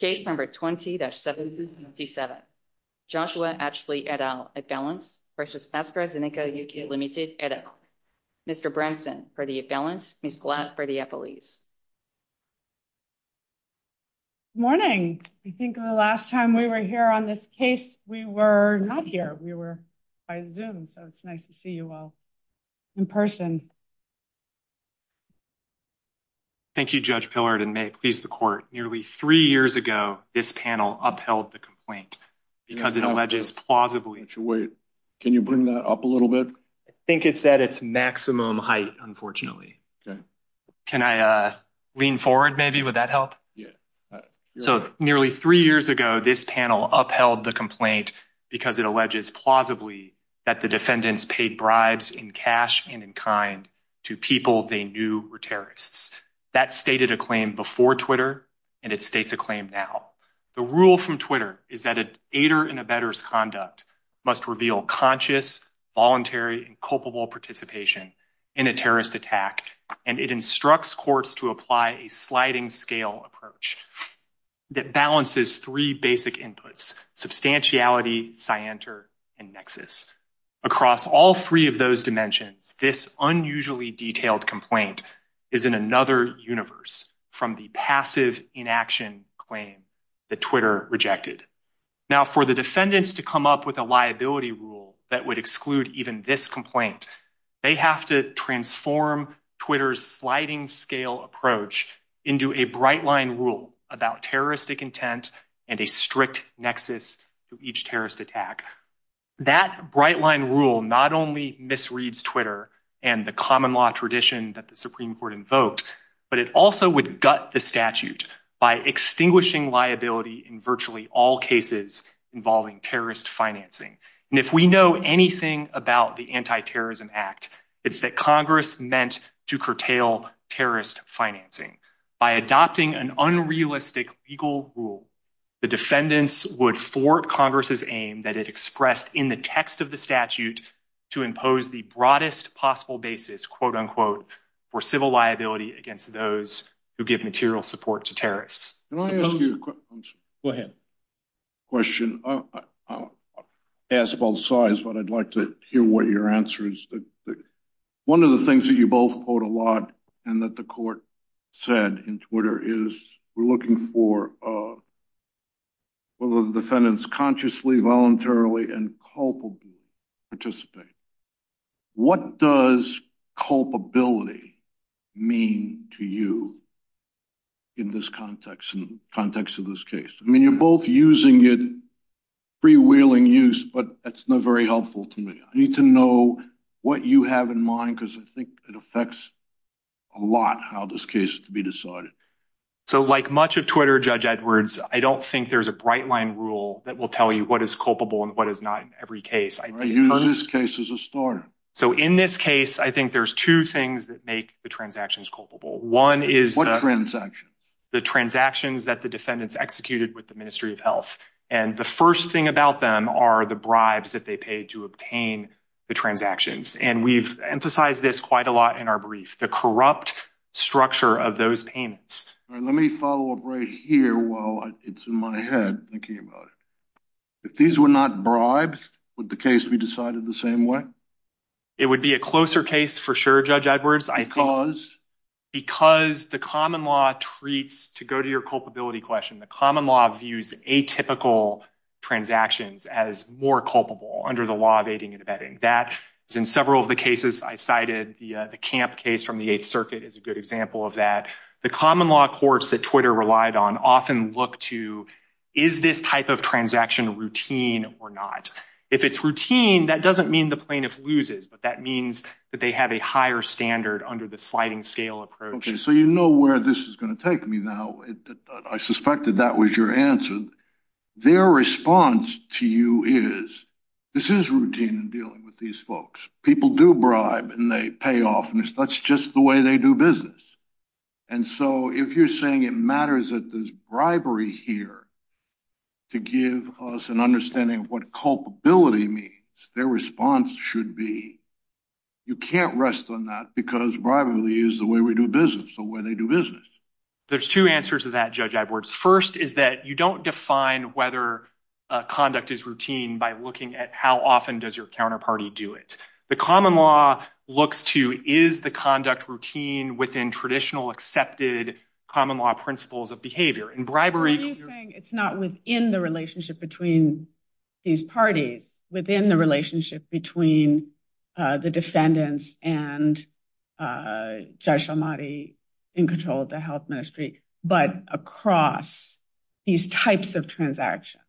Case No. 20-777, Joshua Atchley et al. Affelants v. AstraZeneca UK Limited et al. Mr. Branson, for the affelants, Ms. Glatt, for the affiliates. Good morning. I think the last time we were here on this case, we were not here. We were by Zoom, so it's nice to see you all in person. Thank you, Judge Pillard, and may it please the court, nearly three years ago, this panel upheld the complaint because it alleges plausibly... Wait, can you bring that up a little bit? I think it's at its maximum height, unfortunately. Can I lean forward maybe? Would that help? So nearly three years ago, this panel upheld the complaint because it alleges plausibly that the defendants paid bribes in cash and in kind to people they knew were terrorists. That stated a claim before Twitter, and it states a claim now. The rule from Twitter is that an aider-in-a-bedder's conduct must reveal conscious, voluntary, and culpable participation in a terrorist attack, and it instructs courts to apply a sliding-scale approach that balances three basic inputs, substantiality, scienter, and nexus. Across all three of those dimensions, this unusually detailed complaint is in another universe from the passive inaction claim that Twitter rejected. Now, for the defendants to come up with a liability rule that would exclude even this complaint, they have to transform Twitter's sliding-scale approach into a bright-line rule about terroristic intent and a strict nexus to each terrorist attack. That bright-line rule not only misreads Twitter and the common-law tradition that the Supreme Court invoked, but it also would gut the statute by extinguishing liability in virtually all cases involving terrorist financing. And if we know anything about the Anti-Terrorism Act, it's that Congress meant to curtail terrorist financing. By adopting an unrealistic legal rule, the defendants would thwart Congress's aim that it expressed in the text of the statute to impose the broadest possible basis, quote-unquote, for civil liability against those who give material support to terrorists. Can I ask you a question? Go ahead. Question. I'll ask both sides, but I'd like to hear what your answer is. One of the things that you both quote a lot and that the Court said in Twitter is, we're looking for the defendants consciously, voluntarily, and culpably to participate. What does culpability mean to you in this context, in the context of this case? I mean, you're both using it, freewheeling use, but that's not very helpful to me. I need to know what you have in mind, because I think it affects a lot how this case is to be decided. So, like much of Twitter, Judge Edwards, I don't think there's a bright-line rule that will tell you what is culpable and what is not in every case. You know this case as a story. So, in this case, I think there's two things that make the transactions culpable. What transactions? The transactions that the defendants executed with the Ministry of Health. And the first thing about them are the bribes that they paid to obtain the transactions. And we've emphasized this quite a lot in our brief, the corrupt structure of those payments. Let me follow up right here while it's in my head. If these were not bribes, would the case be decided the same way? It would be a closer case for sure, Judge Edwards. Because the common law treats, to go to your culpability question, the common law views atypical transactions as more culpable under the law of aiding and abetting. That, in several of the cases I cited, the Camp case from the Eighth Circuit is a good example of that. The common law courts that Twitter relied on often look to, is this type of transaction routine or not? If it's routine, that doesn't mean the plaintiff loses, but that means that they have a higher standard under the sliding scale approach. So you know where this is going to take me now. I suspected that was your answer. Their response to you is, this is routine in dealing with these folks. People do bribe and they pay off, and that's just the way they do business. And so if you're saying it matters that there's bribery here to give us an understanding of what culpability means, their response should be, you can't rest on that because bribery is the way we do business, the way they do business. There's two answers to that, Judge Edwards. First is that you don't define whether conduct is routine by looking at how often does your counterparty do it. The common law looks to, is the conduct routine within traditional accepted common law principles of behavior? I'm just saying it's not within the relationship between these parties, within the relationship between the defendants and Judge Almaty in control of the health ministry, but across these types of transactions.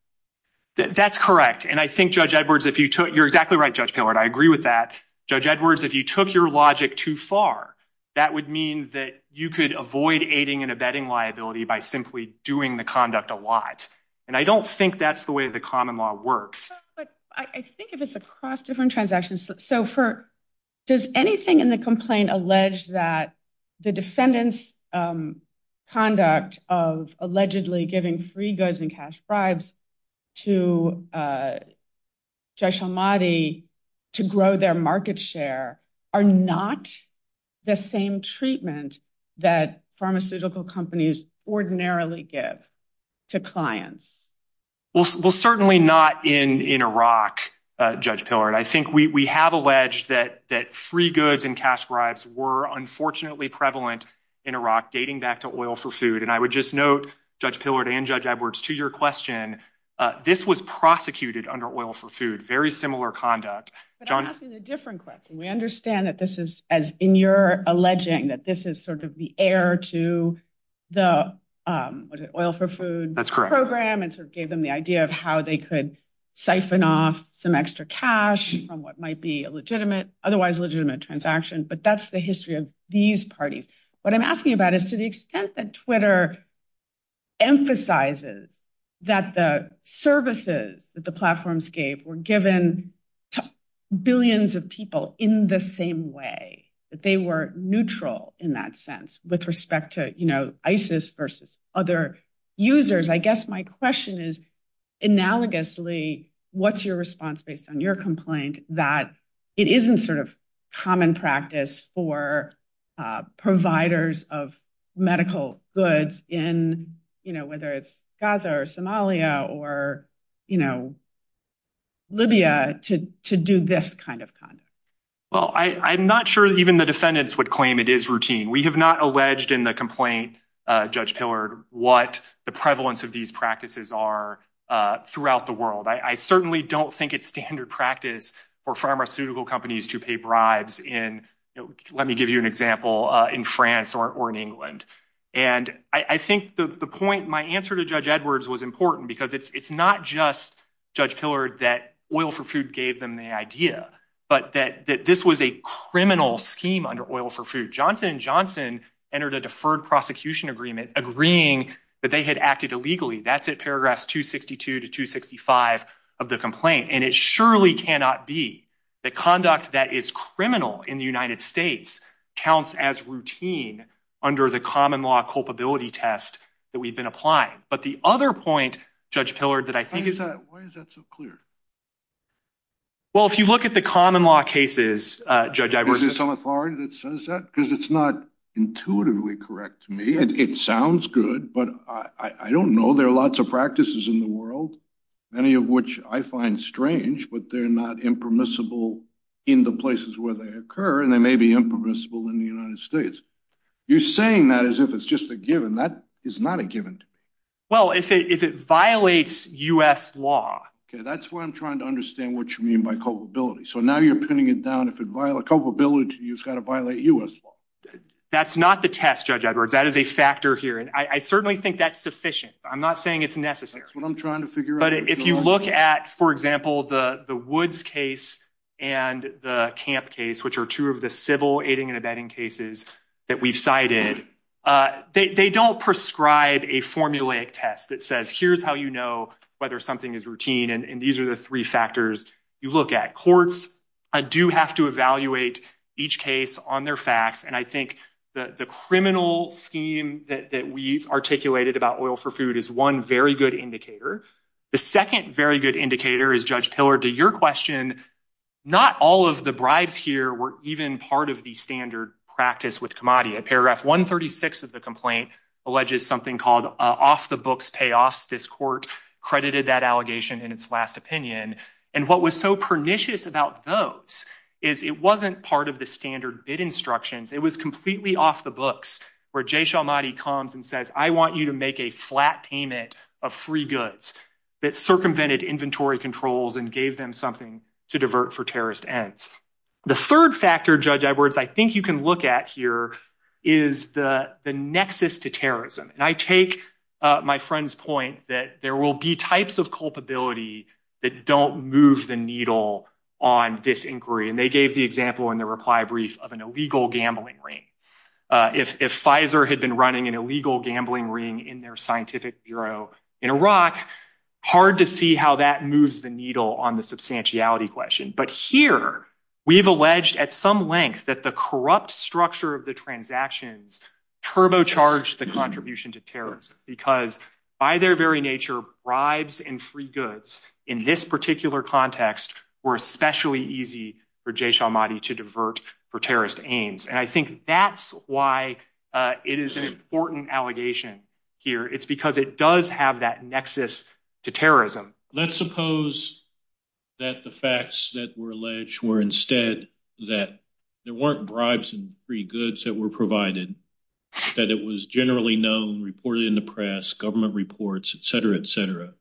That's correct. And I think, Judge Edwards, you're exactly right, Judge Pillard, I agree with that. Judge Edwards, if you took your logic too far, that would mean that you could avoid aiding and abetting liability by simply doing the conduct a lot. And I don't think that's the way the common law works. I think if it's across different transactions, so does anything in the complaint allege that the defendant's conduct of allegedly giving free goods and cash bribes to Judge Almaty to grow their market share are not the same treatment that pharmaceutical companies ordinarily give to clients? Well, certainly not in Iraq, Judge Pillard. I think we have alleged that free goods and cash bribes were unfortunately prevalent in Iraq, dating back to Oil for Food. And I would just note, Judge Pillard and Judge Edwards, to your question, this was prosecuted under Oil for Food, very similar conduct. But I'm asking a different question. We understand that this is, as in your alleging, that this is sort of the heir to the Oil for Food program and sort of gave them the idea of how they could siphon off some extra cash on what might be a legitimate, otherwise legitimate transaction. But that's the history of these parties. What I'm asking about is to the extent that Twitter emphasizes that the services that the platforms gave were given to billions of people in the same way, that they were neutral in that sense with respect to ISIS versus other users. I guess my question is, analogously, what's your response based on your complaint that it isn't sort of common practice for providers of medical goods in, you know, whether it's Gaza or Somalia or, you know, Libya to do this kind of conduct? Well, I'm not sure even the defendants would claim it is routine. We have not alleged in the complaint, Judge Pillard, what the prevalence of these practices are throughout the world. I certainly don't think it's standard practice for pharmaceutical companies to pay bribes in, let me give you an example, in France or in England. And I think the point, my answer to Judge Edwards was important because it's not just Judge Pillard that Oil for Food gave them the idea, but that this was a criminal scheme under Oil for Food. Johnson & Johnson entered a deferred prosecution agreement agreeing that they had acted illegally. That's at paragraphs 262 to 265 of the complaint. And it surely cannot be the conduct that is criminal in the United States counts as routine under the common law culpability test that we've been applying. But the other point, Judge Pillard, that I think is... Why is that so clear? Well, if you look at the common law cases, Judge Edwards... Is there some authority that says that? Because it's not intuitively correct to me. It sounds good, but I don't know. There are lots of practices in the world, many of which I find strange, but they're not impermissible in the places where they occur, and they may be impermissible in the United States. You're saying that as if it's just a given. That is not a given. Well, if it violates U.S. law... Okay, that's why I'm trying to understand what you mean by culpability. So now you're pinning it down. If it violates culpability, it's got to violate U.S. law. That's not the test, Judge Edwards. That is a factor here, and I certainly think that's sufficient. I'm not saying it's necessary. That's what I'm trying to figure out. But if you look at, for example, the Woods case and the Camp case, which are two of the civil aiding and abetting cases that we cited, they don't prescribe a formulaic test that says, here's how you know whether something is routine, and these are the three factors you look at. Courts do have to evaluate each case on their facts, and I think the criminal scheme that we articulated about oil for food is one very good indicator. The second very good indicator is, Judge Pillard, to your question, not all of the bribes here were even part of the standard practice with commodity. Paragraph 136 of the complaint alleges something called off-the-books payoffs. This court credited that allegation in its last opinion, and what was so pernicious about those is it wasn't part of the standard bid instructions. It was completely off-the-books, where Jay Shalmati comes and says, I want you to make a flat payment of free goods that circumvented inventory controls and gave them something to divert for terrorist ends. The third factor, Judge Edwards, I think you can look at here is the nexus to terrorism, and I take my friend's point that there will be types of culpability that don't move the needle on this inquiry, and they gave the example in the reply brief of an illegal gambling ring. If Pfizer had been running an illegal gambling ring in their scientific bureau in Iraq, hard to see how that moves the needle on the substantiality question, but here we've alleged at some length that the corrupt structure of the transactions turbocharged the contribution to terrorism, because by their very nature, bribes and free goods in this particular context were especially easy for Jay Shalmati to divert for terrorist aims, and I think that's why it is an important allegation here. It's because it does have that nexus to terrorism. Let's suppose that the facts that were alleged were instead that there weren't bribes and free goods that were provided, that it was generally known, reported in the press, government reports, etc., etc.,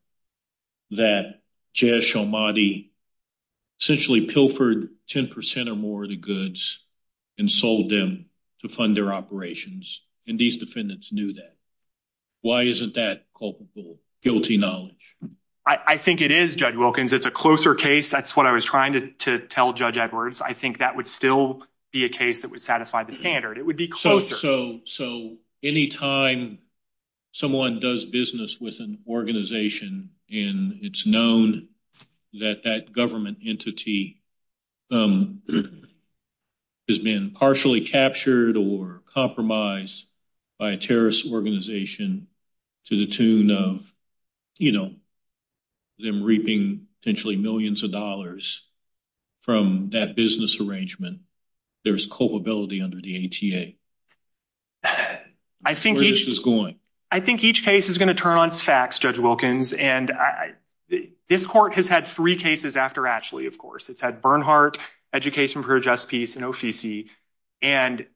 that Jay Shalmati essentially pilfered 10% or more of the goods and sold them to fund their operations, and these defendants knew that. Why isn't that culpable, guilty knowledge? I think it is, Judge Wilkins. It's a closer case. That's what I was trying to tell Judge Edwards. I think that would still be a case that would satisfy the standard. It would be closer. Any time someone does business with an organization and it's known that that government entity has been partially captured or compromised by a terrorist organization to the tune of them reaping potentially millions of dollars from that business arrangement, there's culpability under the ATA. Where is this going? I think each case is going to turn on facts, Judge Wilkins, and this court has had three cases after Ashley, of course. It's had Bernhardt, Education for a Just Peace, and Ofici, and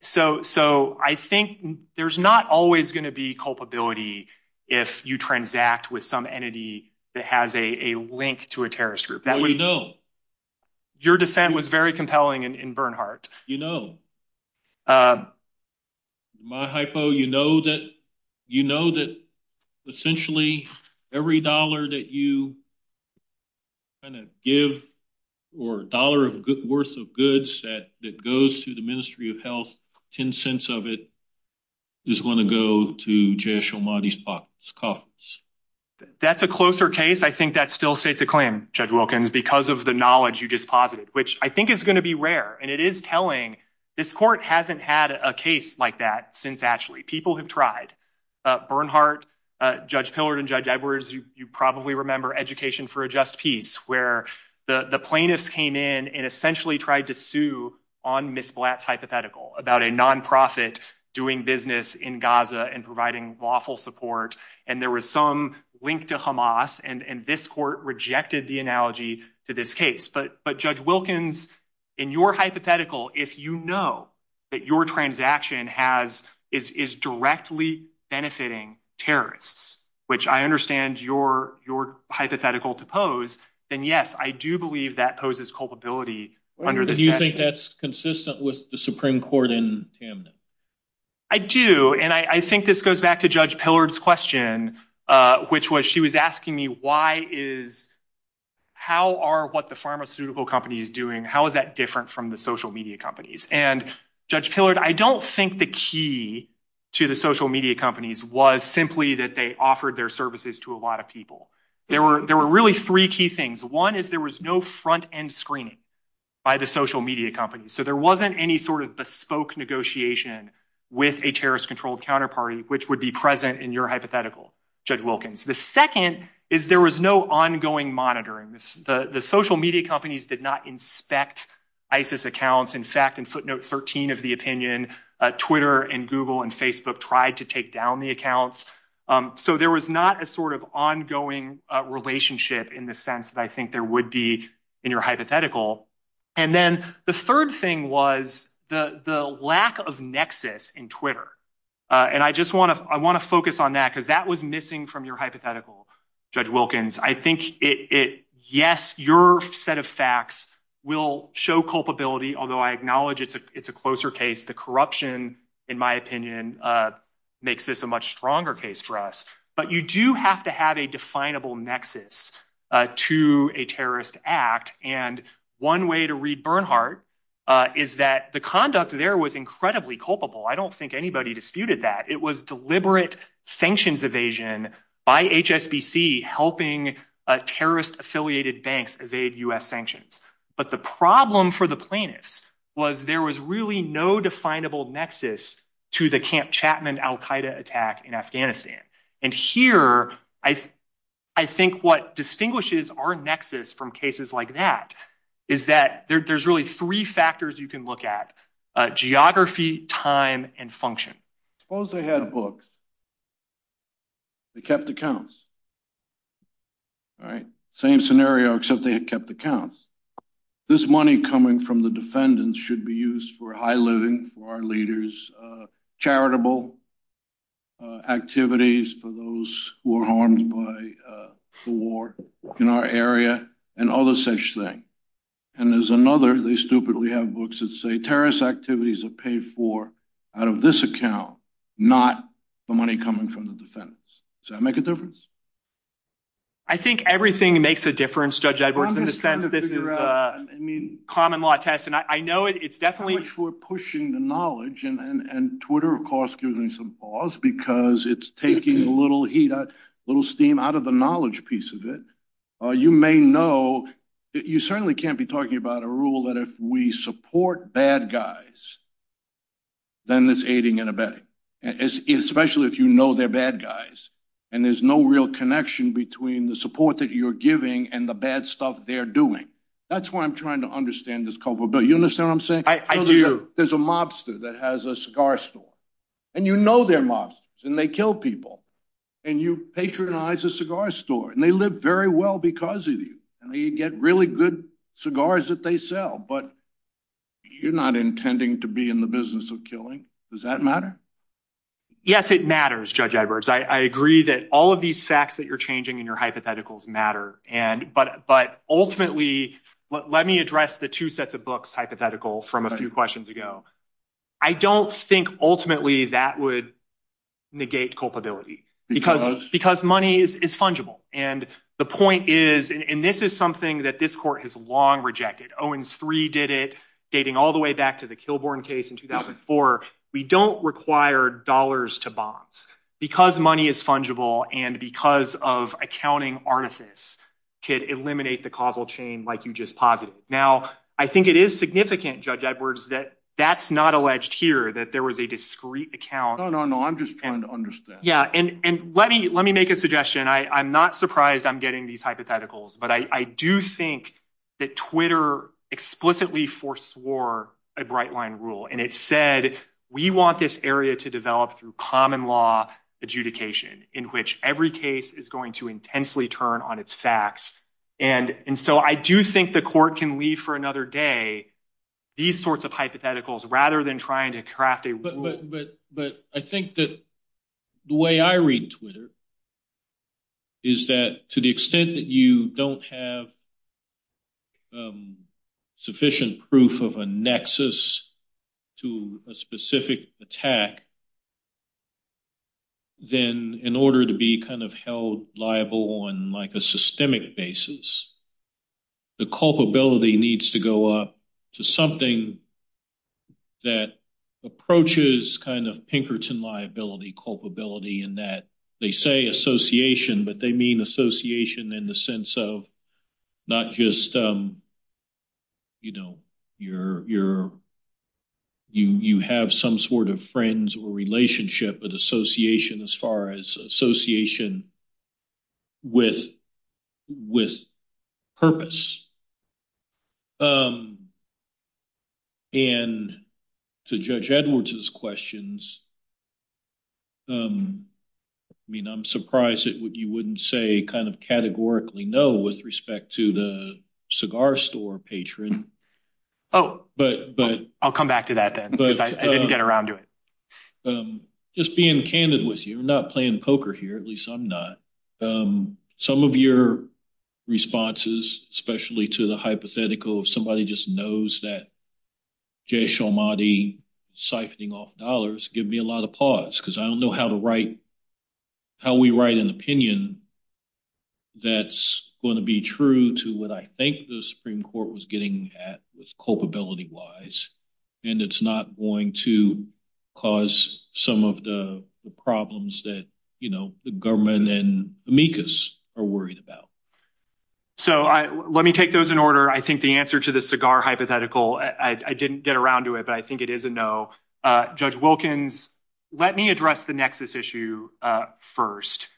so I think there's not always going to be culpability if you transact with some entity that has a link to a terrorist group. Well, we know. Your defense was very compelling in Bernhardt. You know. My hypo, you know that essentially every dollar that you kind of give or dollar worth of goods that goes to the Ministry of Health, 10 cents of it is going to go to Jayash Omadi's coffers. That's a closer case. I think that's still safe to claim, Judge Wilkins, because of the knowledge you just posited, which I think is going to be rare. And it is telling. This court hasn't had a case like that since Ashley. People have tried. Bernhardt, Judge Pillard, and Judge Edwards, you probably remember Education for a Just Peace, where the plaintiffs came in and essentially tried to sue on Ms. Black's hypothetical about a nonprofit doing business in Gaza and providing lawful support. And there was some link to Hamas, and this court rejected the analogy to this case. But, Judge Wilkins, in your hypothetical, if you know that your transaction is directly benefiting terrorists, which I understand your hypothetical to pose, then yes, I do believe that poses culpability. Do you think that's consistent with the Supreme Court in Hamden? I do, and I think this goes back to Judge Pillard's question, which was she was asking me, how are what the pharmaceutical companies doing, how is that different from the social media companies? And, Judge Pillard, I don't think the key to the social media companies was simply that they offered their services to a lot of people. There were really three key things. One is there was no front-end screening by the social media companies. So there wasn't any sort of bespoke negotiation with a terrorist-controlled counterparty, which would be present in your hypothetical, Judge Wilkins. The second is there was no ongoing monitoring. The social media companies did not inspect ISIS accounts. In fact, in footnote 13 of the opinion, Twitter and Google and Facebook tried to take down the accounts. So there was not a sort of ongoing relationship in the sense that I think there would be in your hypothetical. And then the third thing was the lack of nexus in Twitter. And I just want to I want to focus on that because that was missing from your hypothetical, Judge Wilkins. I think it yes, your set of facts will show culpability, although I acknowledge it's a closer case. The corruption, in my opinion, makes this a much stronger case for us. But you do have to have a definable nexus to a terrorist act. And one way to read Bernhardt is that the conduct there was incredibly culpable. I don't think anybody disputed that. It was deliberate sanctions evasion by HSBC, helping terrorist-affiliated banks evade U.S. sanctions. But the problem for the plaintiffs was there was really no definable nexus to the Camp Chapman al-Qaeda attack in Afghanistan. And here, I think what distinguishes our nexus from cases like that is that there's really three factors you can look at. Geography, time and function. Suppose they had books. They kept accounts. All right. Same scenario, except they had kept accounts. This money coming from the defendants should be used for high living for our leaders, charitable activities for those who are harmed by war in our area and all this such thing. And there's another, they stupidly have books that say terrorist activities are paid for out of this account, not the money coming from the defendants. Does that make a difference? I think everything makes a difference, Judge Edwards, in the sense that this is a common law test. And I know it's definitely— I wish we were pushing the knowledge. And Twitter, of course, gives me some pause because it's taking a little heat, a little steam out of the knowledge piece of it. And you may know that you certainly can't be talking about a rule that if we support bad guys, then there's aiding and abetting, especially if you know they're bad guys. And there's no real connection between the support that you're giving and the bad stuff they're doing. That's why I'm trying to understand this culpability. You understand what I'm saying? I do. There's a mobster that has a cigar store. And you know they're mobsters, and they kill people. And you patronize a cigar store, and they live very well because of you. And they get really good cigars that they sell, but you're not intending to be in the business of killing. Does that matter? Yes, it matters, Judge Edwards. I agree that all of these facts that you're changing in your hypotheticals matter. But ultimately—let me address the two sets of books hypothetical from a few questions ago. I don't think ultimately that would negate culpability because money is fungible. And the point is—and this is something that this court has long rejected. Owens III did it, dating all the way back to the Kilbourn case in 2004. We don't require dollars to bonds. Because money is fungible and because of accounting artifice could eliminate the causal chain like you just posited. Now, I think it is significant, Judge Edwards, that that's not alleged here, that there was a discreet account. No, no, no. I'm just trying to understand. Yeah. And let me make a suggestion. I'm not surprised I'm getting these hypotheticals. But I do think that Twitter explicitly foreswore a bright-line rule. And it said, we want this area to develop through common-law adjudication in which every case is going to intensely turn on its facts. And so I do think the court can leave for another day these sorts of hypotheticals rather than trying to craft a rule. But I think that the way I read Twitter is that to the extent that you don't have sufficient proof of a nexus to a specific attack, then in order to be held liable on a systemic basis, the culpability needs to go up to something that approaches Pinkerton liability culpability in that they say association, but they mean association in the sense of not just you have some sort of friends or relationship, but association as far as association with purpose. And to Judge Edwards' questions, I mean, I'm surprised that you wouldn't say kind of categorically no with respect to the cigar store patron. Oh, but I'll come back to that then. I didn't get around to it. Just being candid with you, not playing poker here, at least I'm not. Some of your responses, especially to the hypothetical, somebody just knows that Jay Sharmati siphoning off dollars give me a lot of pause because I don't know how to write, how we write an opinion that's going to be true to what I think the Supreme Court was getting at with culpability wise. And it's not going to cause some of the problems that, you know, the government and amicus are worried about. So let me take those in order. I think the answer to the cigar hypothetical, I didn't get around to it, but I think it is a no. Judge Wilkins, let me address the Nexus issue first,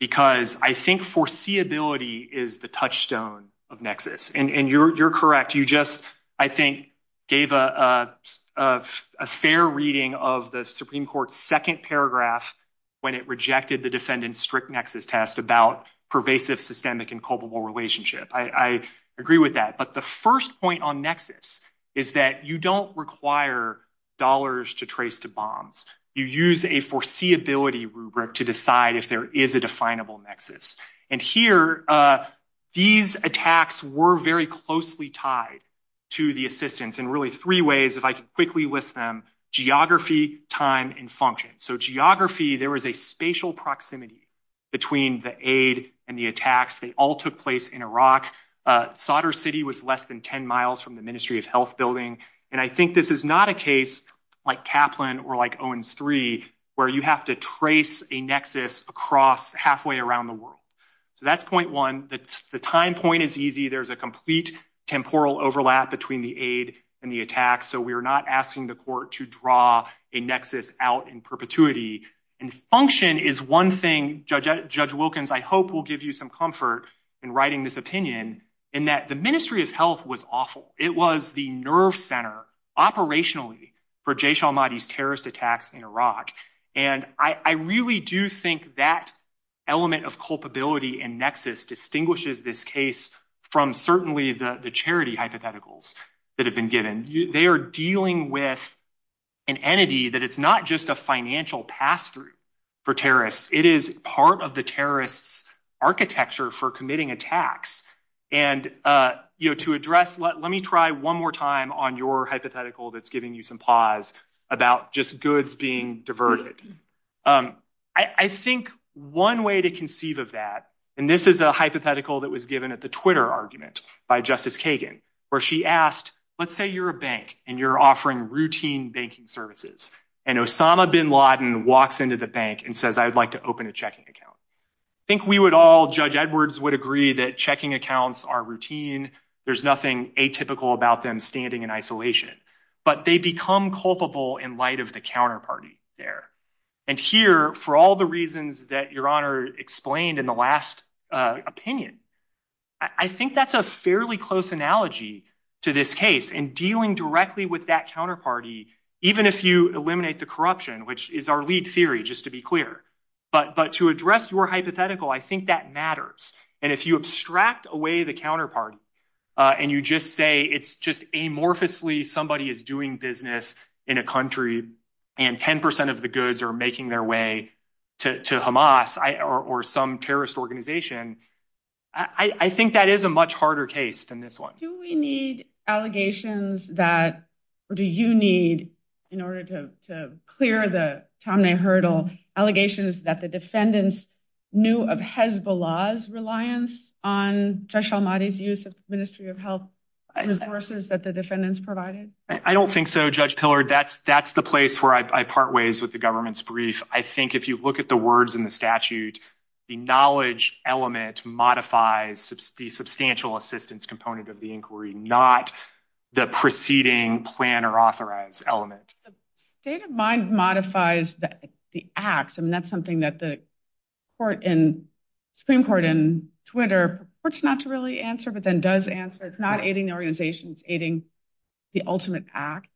because I think foreseeability is the touchstone of Nexus. And you're correct. You just, I think, gave a fair reading of the Supreme Court's second paragraph when it rejected the defendant's strict Nexus test about pervasive systemic and culpable relationship. I agree with that. But the first point on Nexus is that you don't require dollars to trace to bombs. You use a foreseeability rubric to decide if there is a definable Nexus. And here, these attacks were very closely tied to the assistance in really three ways, if I could quickly list them. Geography, time and function. So geography, there was a spatial proximity between the aid and the attacks. They all took place in Iraq. Sadr City was less than 10 miles from the Ministry of Health building. And I think this is not a case like Kaplan or like Owens III, where you have to trace a Nexus across halfway around the world. That's point one. The time point is easy. There's a complete temporal overlap between the aid and the attack. So we are not asking the court to draw a Nexus out in perpetuity. And function is one thing, Judge Wilkins, I hope will give you some comfort in writing this opinion, in that the Ministry of Health was awful. It was the nerve center operationally for Jaysh al-Mahdi's terrorist attacks in Iraq. And I really do think that element of culpability and Nexus distinguishes this case from certainly the charity hypotheticals that have been given. They are dealing with an entity that it's not just a financial pass through for terrorists. It is part of the terrorist's architecture for committing attacks. And, you know, to address, let me try one more time on your hypothetical that's giving you some pause about just goods being diverted. I think one way to conceive of that, and this is a hypothetical that was given at the Twitter argument by Justice Kagan, where she asked, let's say you're a bank and you're offering routine banking services. And Osama bin Laden walks into the bank and says, I'd like to open a checking account. I think we would all, Judge Edwards would agree that checking accounts are routine. There's nothing atypical about them standing in isolation, but they become culpable in light of the counterparty there. And here, for all the reasons that Your Honor explained in the last opinion, I think that's a fairly close analogy to this case and dealing directly with that counterparty, even if you eliminate the corruption, which is our lead theory, just to be clear. But but to address your hypothetical, I think that matters. And if you abstract away the counterpart and you just say it's just amorphously somebody is doing business in a country and 10 percent of the goods are making their way to Hamas or some terrorist organization, I think that is a much harder case than this one. Do we need allegations that or do you need in order to clear the Tom Hurdle allegations that the defendants knew of Hezbollah's reliance on special money to use the Ministry of Health resources that the defendants provided? I don't think so. Judge Pillar, that's that's the place where I part ways with the government's brief. I think if you look at the words in the statute, the knowledge element modifies the substantial assistance component of the inquiry, not the preceding plan or authorized element. The state of mind modifies the act. And that's something that the Supreme Court in Twitter, of course, not to really answer, but then does answer. It's not aiding organizations, aiding the ultimate act.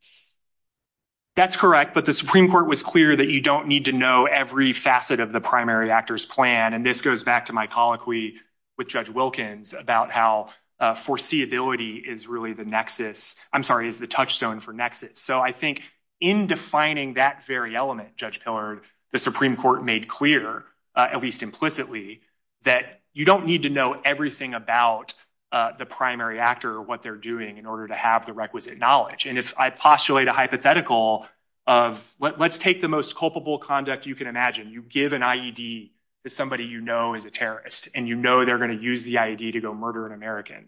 That's correct. But the Supreme Court was clear that you don't need to know every facet of the primary actor's plan. And this goes back to my colloquy with Judge Wilkins about how foreseeability is really the nexus. I'm sorry, is the touchstone for nexus. So I think in defining that very element, Judge Pillar, the Supreme Court made clear, at least implicitly, that you don't need to know everything about the primary actor or what they're doing in order to have the requisite knowledge. And I postulate a hypothetical of let's take the most culpable conduct you can imagine. You give an IED to somebody you know is a terrorist and you know they're going to use the IED to go murder an American.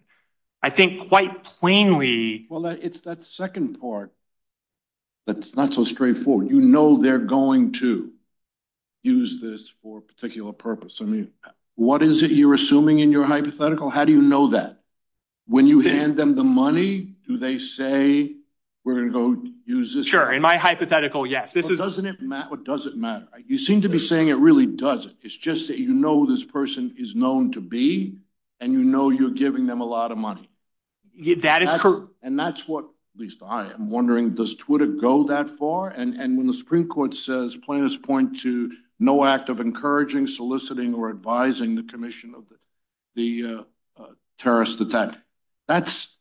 I think quite plainly. Well, it's that second part that's not so straightforward. You know they're going to use this for a particular purpose. I mean, what is it you're assuming in your hypothetical? How do you know that? When you hand them the money, do they say we're going to go use this? Sure. In my hypothetical, yes. But doesn't it matter? It doesn't matter. You seem to be saying it really doesn't. It's just that you know this person is known to be and you know you're giving them a lot of money. That is correct. And that's what, at least I am wondering, does Twitter go that far? And when the Supreme Court says plaintiffs point to no act of encouraging, soliciting or advising the commission of the terrorist attack. That's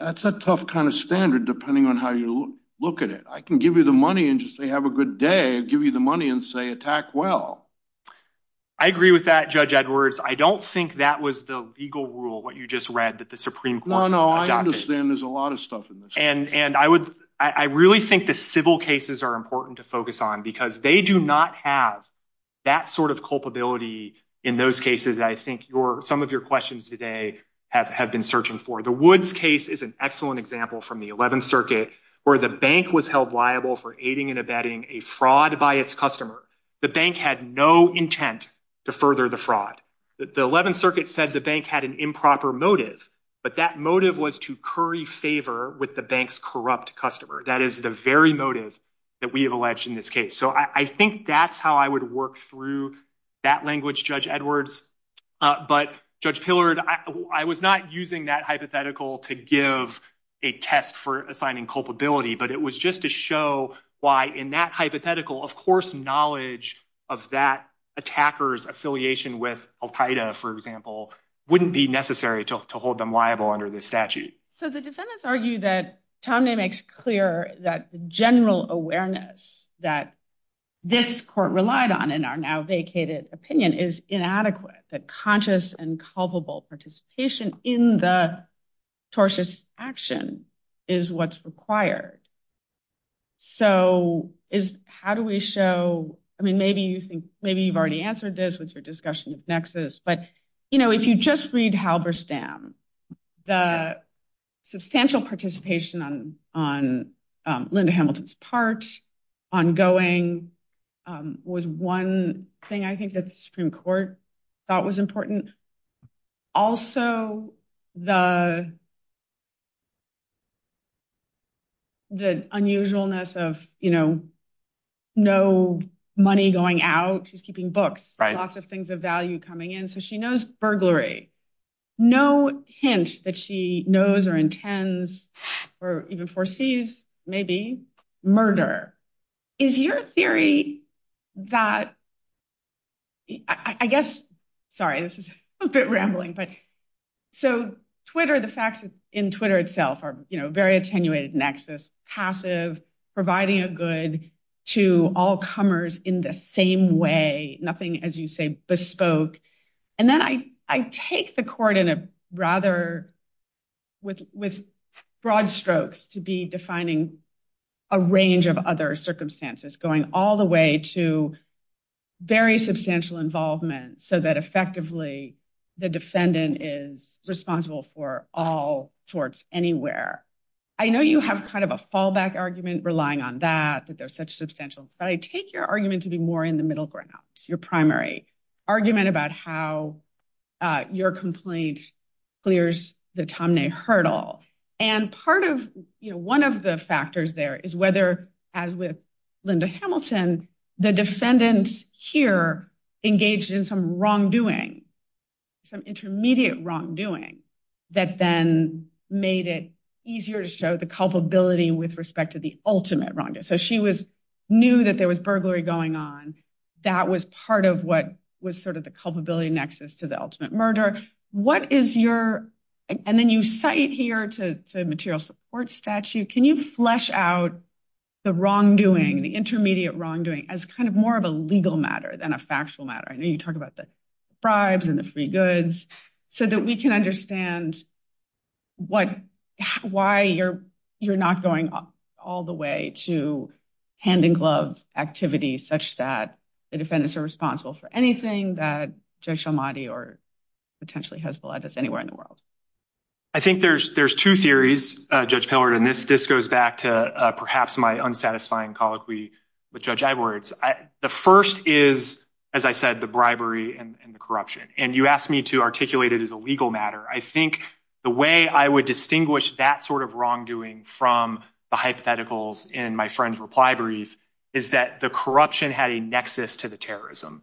a tough kind of standard depending on how you look at it. I can give you the money and just say have a good day, give you the money and say attack well. I agree with that, Judge Edwards. I don't think that was the legal rule, what you just read that the Supreme Court. No, no, I understand there's a lot of stuff. And I really think the civil cases are important to focus on because they do not have that sort of culpability in those cases. I think some of your questions today have been searching for. The Woods case is an excellent example from the 11th Circuit where the bank was held liable for aiding and abetting a fraud by its customer. The bank had no intent to further the fraud. The 11th Circuit said the bank had an improper motive, but that motive was to curry favor with the bank's corrupt customer. That is the very motive that we have alleged in this case. So I think that's how I would work through that language, Judge Edwards. But Judge Pillard, I was not using that hypothetical to give a test for assigning culpability. But it was just to show why in that hypothetical, of course, knowledge of that attacker's affiliation with Al-Qaeda, for example, wouldn't be necessary to hold them liable under this statute. So the defendants argue that Tomne makes clear that the general awareness that this court relied on in our now vacated opinion is inadequate, that conscious and culpable participation in the tortious action is what's required. So how do we show – I mean, maybe you've already answered this with your discussion of nexus. But if you just read Halberstam, the substantial participation on Linda Hamilton's part, ongoing, was one thing I think that the Supreme Court thought was important. Also, the unusualness of no money going out, she's keeping books, lots of things of value coming in. So she knows burglary. No hint that she knows or intends or even foresees, maybe, murder. Is your theory that – I guess – sorry, this is a bit rambling. So Twitter, the facts in Twitter itself are very attenuated nexus, passive, providing a good to all comers in the same way, nothing, as you say, bespoke. And then I take the court in a rather – with broad strokes to be defining a range of other circumstances going all the way to very substantial involvement so that effectively the defendant is responsible for all torts anywhere. I know you have kind of a fallback argument relying on that, that they're such substantial. But I take your argument to be more in the middle ground, your primary argument about how your complaint clears the Tom Ney hurdle. And part of – one of the factors there is whether, as with Linda Hamilton, the defendants here engaged in some wrongdoing, some intermediate wrongdoing, that then made it easier to show the culpability with respect to the ultimate wrongdoing. So she knew that there was burglary going on. That was part of what was sort of the culpability nexus to the ultimate murder. And then you cite here the material support statute. Can you flesh out the wrongdoing, the intermediate wrongdoing, as kind of more of a legal matter than a factual matter? I know you talk about the bribes and the free goods, so that we can understand why you're not going all the way to hand-in-glove activity such that the defendants are responsible for anything that Judge El-Mahdi or potentially Hezbollah does anywhere in the world. I think there's two theories, Judge Pillard, and this goes back to perhaps my unsatisfying colleague with Judge Edwards. The first is, as I said, the bribery and the corruption. And you asked me to articulate it as a legal matter. I think the way I would distinguish that sort of wrongdoing from the hypotheticals in my friend's replibrary is that the corruption had a nexus to the terrorism.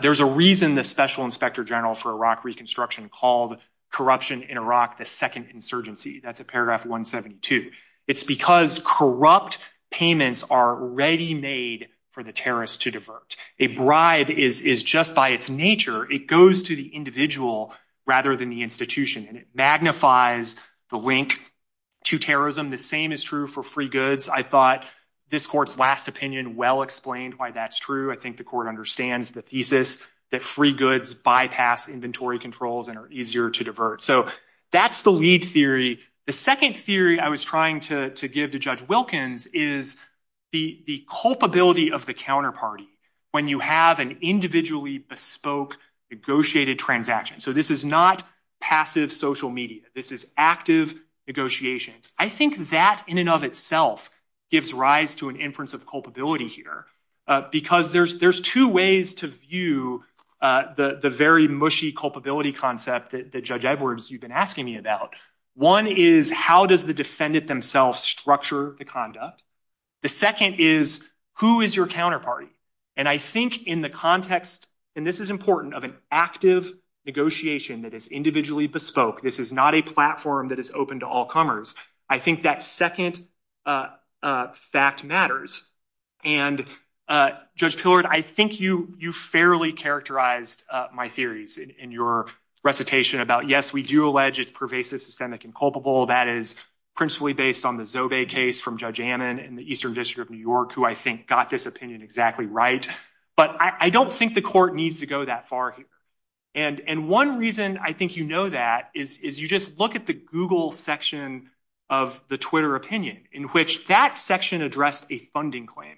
There's a reason the Special Inspector General for Iraq Reconstruction called corruption in Iraq the second insurgency. That's at paragraph 172. It's because corrupt payments are ready-made for the terrorists to divert. A bribe is just by its nature. It goes to the individual rather than the institution, and it magnifies the link to terrorism. The same is true for free goods. I thought this court's last opinion well explained why that's true. I think the court understands the thesis that free goods bypass inventory controls and are easier to divert. So that's the lead theory. The second theory I was trying to give to Judge Wilkins is the culpability of the counterparty when you have an individually bespoke negotiated transaction. So this is not passive social media. This is active negotiations. I think that in and of itself gives rise to an inference of culpability here because there's two ways to view the very mushy culpability concept that Judge Edwards, you've been asking me about. One is how does the defendant themselves structure the conduct? The second is who is your counterparty? And I think in the context, and this is important, of an active negotiation that is individually bespoke, this is not a platform that is open to all comers, I think that second fact matters. And Judge Pillard, I think you fairly characterized my theories in your recitation about, yes, we do allege it's pervasive, systemic, and culpable. That is principally based on the Zobey case from Judge Ammon in the Eastern District of New York who I think got this opinion exactly right. But I don't think the court needs to go that far here. And one reason I think you know that is you just look at the Google section of the Twitter opinion in which that section addressed a funding claim,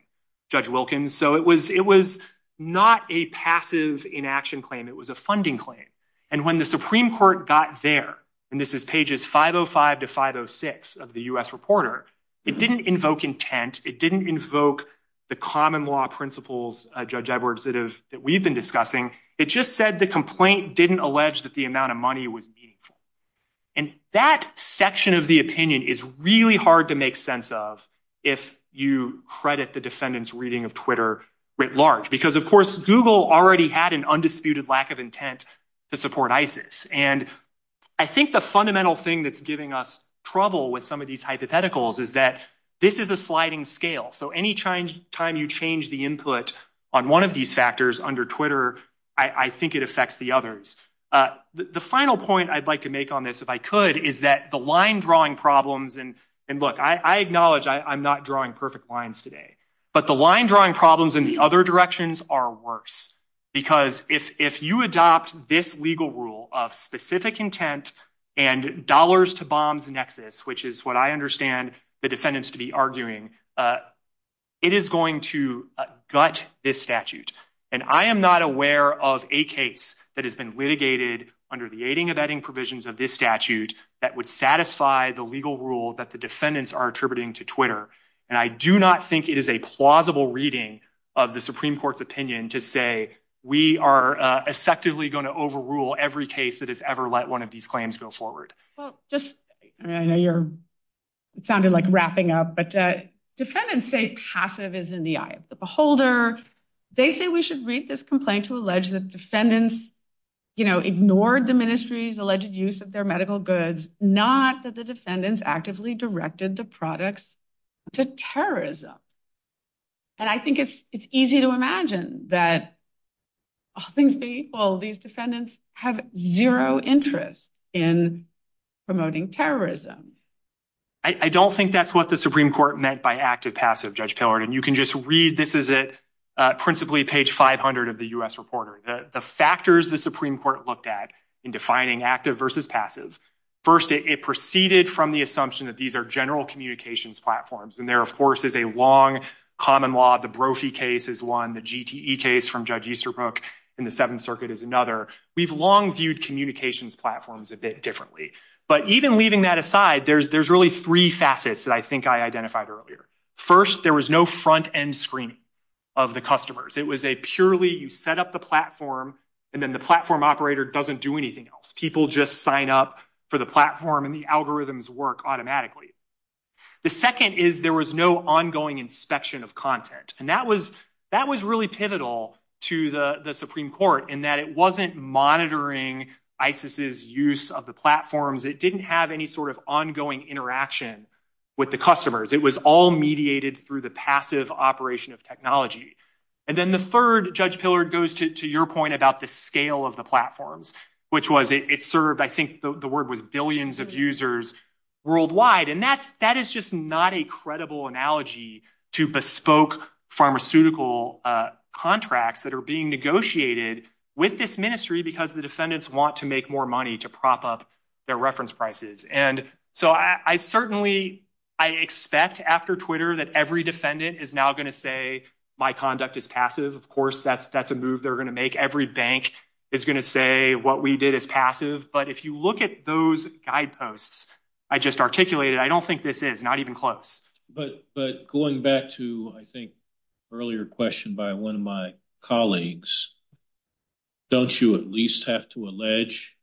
Judge Wilkins. So it was not a passive inaction claim. It was a funding claim. And when the Supreme Court got there, and this is pages 505 to 506 of the U.S. Reporter, it didn't invoke intent. It didn't invoke the common law principles, Judge Edwards, that we've been discussing. It just said the complaint didn't allege that the amount of money was meaningful. And that section of the opinion is really hard to make sense of if you credit the defendant's reading of Twitter writ large. Because, of course, Google already had an undisputed lack of intent to support ISIS. And I think the fundamental thing that's giving us trouble with some of these hypotheticals is that this is a sliding scale. So any time you change the input on one of these factors under Twitter, I think it affects the others. The final point I'd like to make on this, if I could, is that the line-drawing problems, and look, I acknowledge I'm not drawing perfect lines today. But the line-drawing problems in the other directions are worse. Because if you adopt this legal rule of specific intent and dollars-to-bombs nexus, which is what I understand the defendants to be arguing, it is going to gut this statute. And I am not aware of a case that has been litigated under the aiding and abetting provisions of this statute that would satisfy the legal rule that the defendants are attributing to Twitter. And I do not think it is a plausible reading of the Supreme Court's opinion to say we are effectively going to overrule every case that has ever let one of these claims go forward. I know you're sounding like wrapping up, but defendants say passive is in the eye of the beholder. They say we should read this complaint to allege that defendants ignored the ministry's alleged use of their medical goods, not that the defendants actively directed the products to terrorism. And I think it's easy to imagine that all things being equal, these defendants have zero interest in promoting terrorism. I don't think that's what the Supreme Court meant by active-passive, Judge Pillard. And you can just read, this is principally page 500 of the U.S. Reporter, the factors the Supreme Court looked at in defining active versus passive. First, it proceeded from the assumption that these are general communications platforms. And there, of course, is a long common law. The Brophy case is one. The GTE case from Judge Easterbrook in the Seventh Circuit is another. We've long viewed communications platforms a bit differently. But even leaving that aside, there's really three facets that I think I identified earlier. First, there was no front-end screening of the customers. It was a purely you set up the platform, and then the platform operator doesn't do anything else. People just sign up for the platform, and the algorithms work automatically. The second is there was no ongoing inspection of content. And that was really pivotal to the Supreme Court in that it wasn't monitoring ISIS's use of the platforms. It didn't have any sort of ongoing interaction with the customers. It was all mediated through the passive operation of technology. And then the third, Judge Pillard, goes to your point about the scale of the platforms, which was it served, I think the word was billions of users worldwide. And that is just not a credible analogy to bespoke pharmaceutical contracts that are being negotiated with this ministry because the defendants want to make more money to prop up their reference prices. And so I certainly I expect after Twitter that every defendant is now going to say my conduct is passive. Of course, that's a move they're going to make. Every bank is going to say what we did is passive. But if you look at those guideposts I just articulated, I don't think this is, not even close. But going back to, I think, earlier question by one of my colleagues, don't you at least have to allege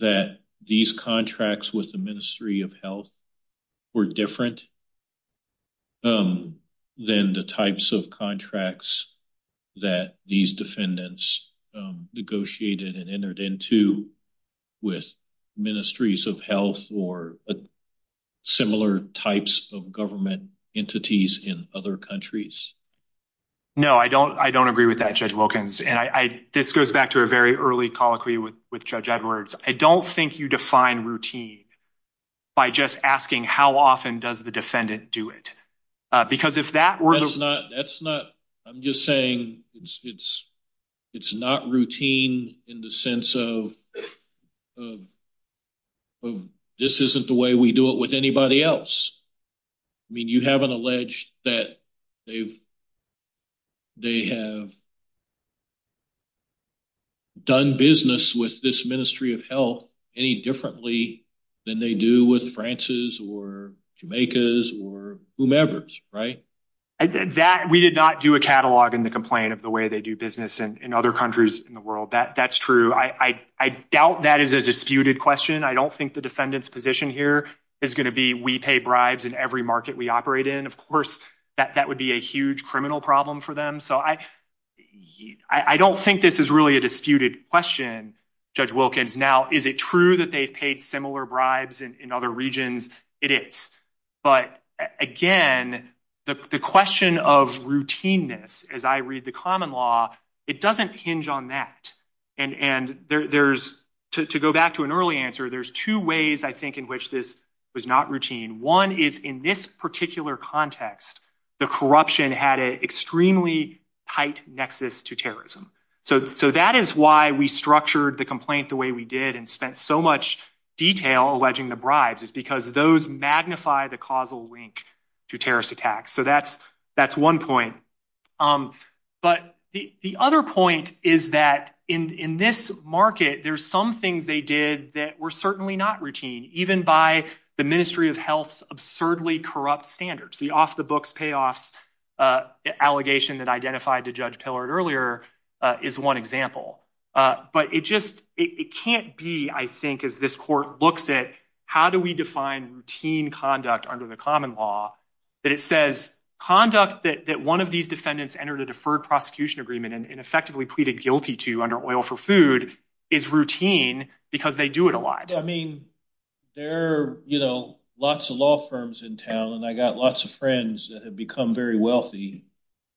that these contracts with the Ministry of Health were different than the types of contracts that these defendants negotiated and entered into with Ministries of Health for similar types of government entities in other countries? No, I don't agree with that, Judge Wilkins. And this goes back to a very early colloquy with Judge Edwards. I don't think you define routine by just asking how often does the defendant do it. That's not, I'm just saying it's not routine in the sense of this isn't the way we do it with anybody else. I mean, you haven't alleged that they have done business with this Ministry of Health any differently than they do with France's or Jamaica's or whomever's, right? We did not do a catalog in the complaint of the way they do business in other countries in the world. That's true. I doubt that is a disputed question. I don't think the defendant's position here is going to be we pay bribes in every market we operate in. Of course, that would be a huge criminal problem for them. So, I don't think this is really a disputed question, Judge Wilkins. Now, is it true that they paid similar bribes in other regions? It is. But, again, the question of routineness, as I read the common law, it doesn't hinge on that. And to go back to an early answer, there's two ways I think in which this was not routine. One is in this particular context, the corruption had an extremely tight nexus to terrorism. So, that is why we structured the complaint the way we did and spent so much detail alleging the bribes is because those magnify the causal link to terrorist attacks. So, that's one point. But the other point is that in this market, there's some things they did that were certainly not routine, even by the Ministry of Health's absurdly corrupt standards. The off-the-books payoffs allegation that I identified to Judge Pillard earlier is one example. But it can't be, I think, as this court looks at how do we define routine conduct under the common law, that it says conduct that one of these defendants entered a deferred prosecution agreement and effectively pleaded guilty to under Oil for Food is routine because they do it a lot. I mean, there are lots of law firms in town, and I've got lots of friends that have become very wealthy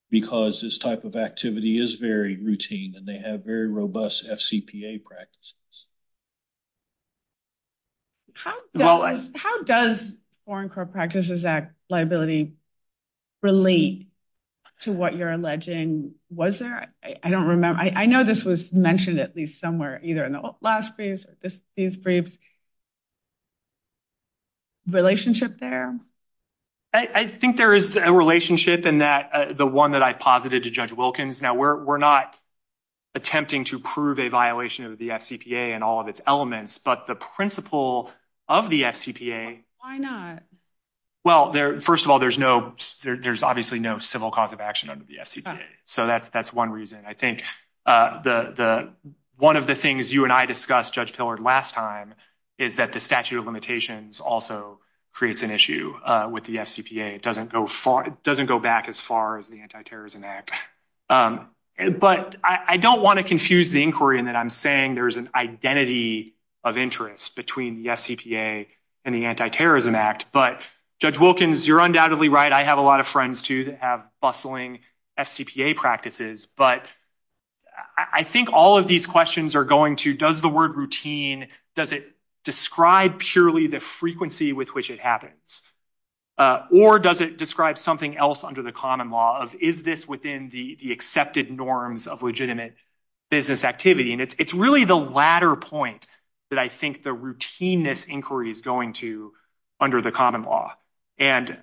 because this type of activity is very routine, and they have very robust FCPA practices. How does Foreign Corrupt Practices Act liability relate to what you're alleging? I don't remember. I know this was mentioned at least somewhere, either in the last briefs or this brief's relationship there. I think there is a relationship in that, the one that I posited to Judge Wilkins. Now, we're not attempting to prove a violation of the FCPA and all of its elements, but the principle of the FCPA… Why not? Well, first of all, there's obviously no civil cause of action under the FCPA, so that's one reason. I think one of the things you and I discussed, Judge Pillard, last time is that the statute of limitations also creates an issue with the FCPA. It doesn't go back as far as the Anti-Terrorism Act. But I don't want to confuse the inquiry in that I'm saying there is an identity of interest between the FCPA and the Anti-Terrorism Act, but Judge Wilkins, you're undoubtedly right. I have a lot of friends, too, that have bustling FCPA practices, but I think all of these questions are going to, does the word routine, does it describe purely the frequency with which it happens? Or does it describe something else under the common law of is this within the accepted norms of legitimate business activity? And it's really the latter point that I think the routineness inquiry is going to under the common law. And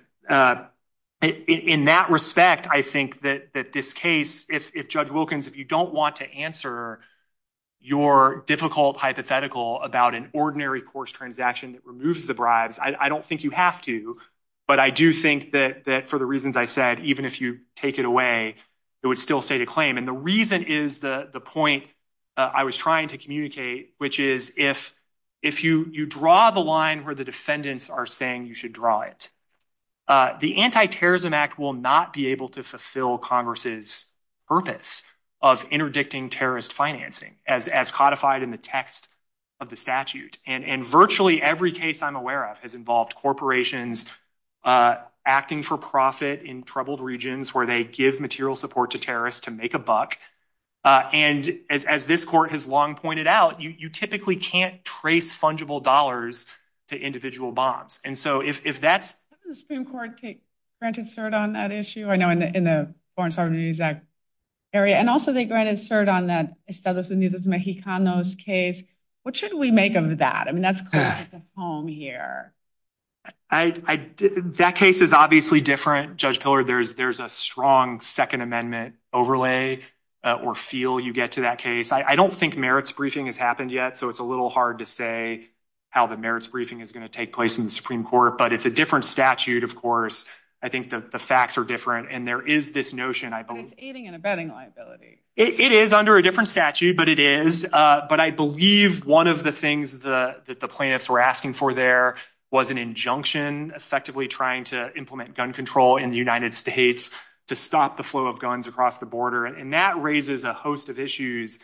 in that respect, I think that this case, if Judge Wilkins, if you don't want to answer your difficult hypothetical about an ordinary course transaction that removes the bribes, I don't think you have to, but I do think that for the reasons I said, even if you take it away, it would still state a claim. And the reason is the point I was trying to communicate, which is if you draw the line where the defendants are saying you should draw it, the Anti-Terrorism Act will not be able to fulfill Congress's purpose of interdicting terrorist financing as codified in the text of the statute. And virtually every case I'm aware of has involved corporations acting for profit in troubled regions where they give material support to terrorists to make a buck. And as this court has long pointed out, you typically can't trace fungible dollars to individual bonds. And so if that's the Supreme Court granted cert on that issue, I know in the Foreign Services Act area, and also they granted cert on that Estados Unidos Mexicanos case. What should we make of that? I mean, that's the home here. That case is obviously different. Judge Pillard, there's a strong Second Amendment overlay or feel you get to that case. I don't think merits briefing has happened yet, so it's a little hard to say how the merits briefing is going to take place in the Supreme Court. But it's a different statute, of course. I think the facts are different. And there is this notion, I believe. It's aiding and abetting liability. It is under a different statute, but it is. But I believe one of the things that the plaintiffs were asking for there was an injunction effectively trying to implement gun control in the United States to stop the flow of guns across the border. And that raises a host of issues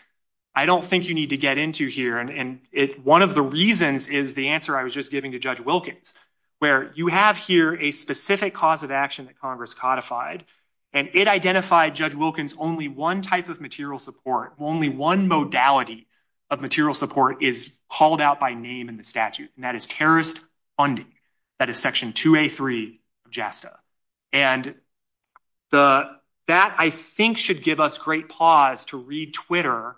I don't think you need to get into here. And one of the reasons is the answer I was just giving to Judge Wilkins, where you have here a specific cause of action that Congress codified. And it identified, Judge Wilkins, only one type of material support. Only one modality of material support is called out by name in the statute, and that is terrorist funding. That is Section 2A.3 of JASTA. And that, I think, should give us great pause to read Twitter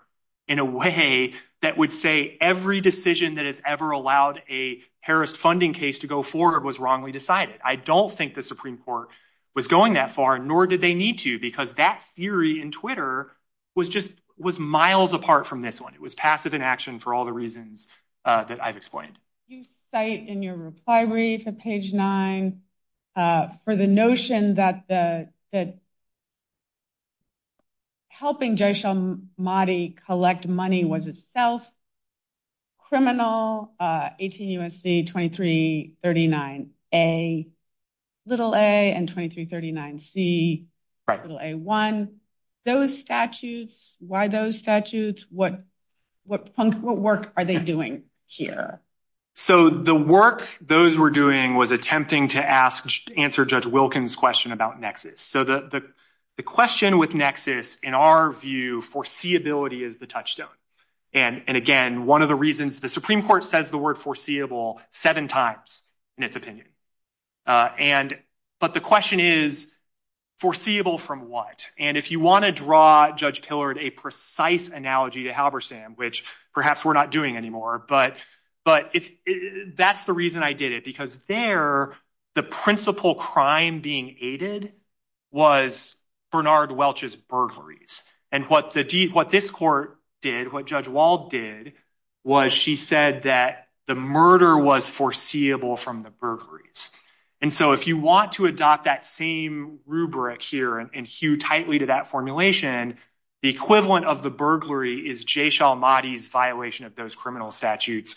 in a way that would say every decision that has ever allowed a terrorist funding case to go forward was wrongly decided. I don't think the Supreme Court was going that far, nor did they need to, because that theory in Twitter was just miles apart from this one. It was passive inaction for all the reasons that I've explained. You cite in your reply read for page 9 for the notion that helping Jaish-al-Mahdi collect money was itself criminal, 18 U.S.C., 2339A, little a, and 2339C, little a1. Those statutes, why those statutes? What work are they doing here? So the work those were doing was attempting to answer Judge Wilkins' question about nexus. So the question with nexus, in our view, foreseeability is the touchstone. And, again, one of the reasons the Supreme Court says the word foreseeable seven times in its opinion. But the question is foreseeable from what? And if you want to draw, Judge Tillard, a precise analogy to Halberstam, which perhaps we're not doing anymore, but that's the reason I did it. Because there, the principal crime being aided was Bernard Welch's burglaries. And what this court did, what Judge Wald did, was she said that the murder was foreseeable from the burglaries. And so if you want to adopt that same rubric here and hew tightly to that formulation, the equivalent of the burglary is Jaish-al-Mahdi's violation of those criminal statutes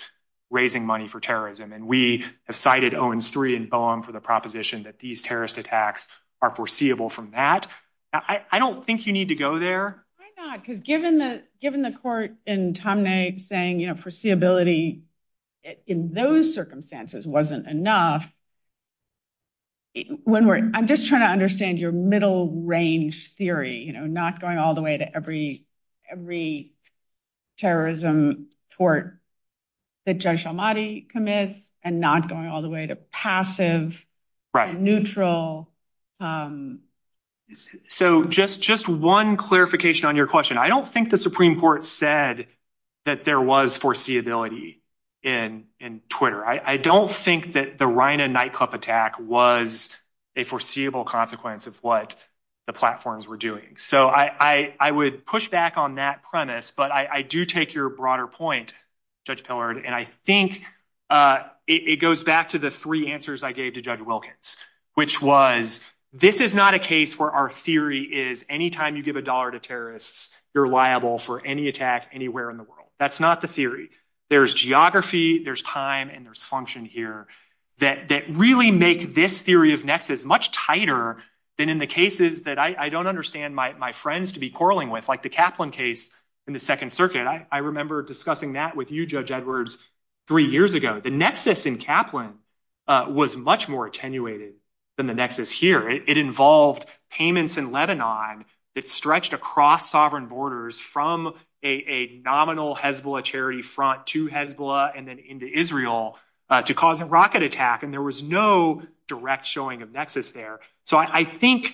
raising money for terrorism. And we have cited Owens III and Boehm for the proposition that these terrorist attacks are foreseeable from that. I don't think you need to go there. Why not? Because given the court in Tomnay saying, you know, foreseeability in those circumstances wasn't enough. I'm just trying to understand your middle range theory, you know, not going all the way to every terrorism tort that Jaish-al-Mahdi commits and not going all the way to passive, neutral. So just one clarification on your question. I don't think the Supreme Court said that there was foreseeability in Twitter. I don't think that the Rhina nightclub attack was a foreseeable consequence of what the platforms were doing. So I would push back on that premise. But I do take your broader point, Judge Pillard, and I think it goes back to the three answers I gave to Judge Wilkins, which was this is not a case where our theory is anytime you give a dollar to terrorists, you're liable for any attack anywhere in the world. That's not the theory. There's geography, there's time, and there's function here that really make this theory of nexus much tighter than in the cases that I don't understand my friends to be quarreling with, like the Kaplan case in the Second Circuit. I remember discussing that with you, Judge Edwards, three years ago. The nexus in Kaplan was much more attenuated than the nexus here. It involved payments in Lebanon that stretched across sovereign borders from a nominal Hezbollah charity front to Hezbollah and then into Israel to cause a rocket attack. And there was no direct showing of nexus there. So I think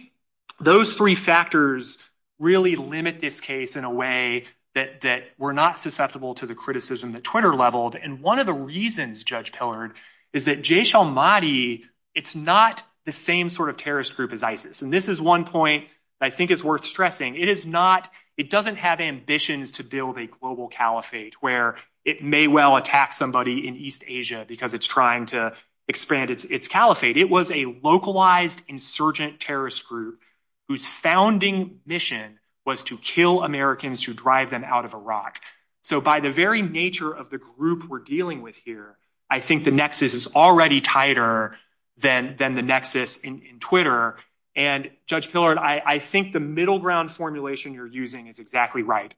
those three factors really limit this case in a way that we're not susceptible to the criticism that Twitter leveled. And one of the reasons, Judge Tillard, is that Jaysh al-Mahdi, it's not the same sort of terrorist group as ISIS. And this is one point I think is worth stressing. It doesn't have ambitions to build a global caliphate where it may well attack somebody in East Asia because it's trying to expand its caliphate. It was a localized insurgent terrorist group whose founding mission was to kill Americans who drive them out of Iraq. So by the very nature of the group we're dealing with here, I think the nexus is already tighter than the nexus in Twitter. And, Judge Tillard, I think the middle ground formulation you're using is exactly right.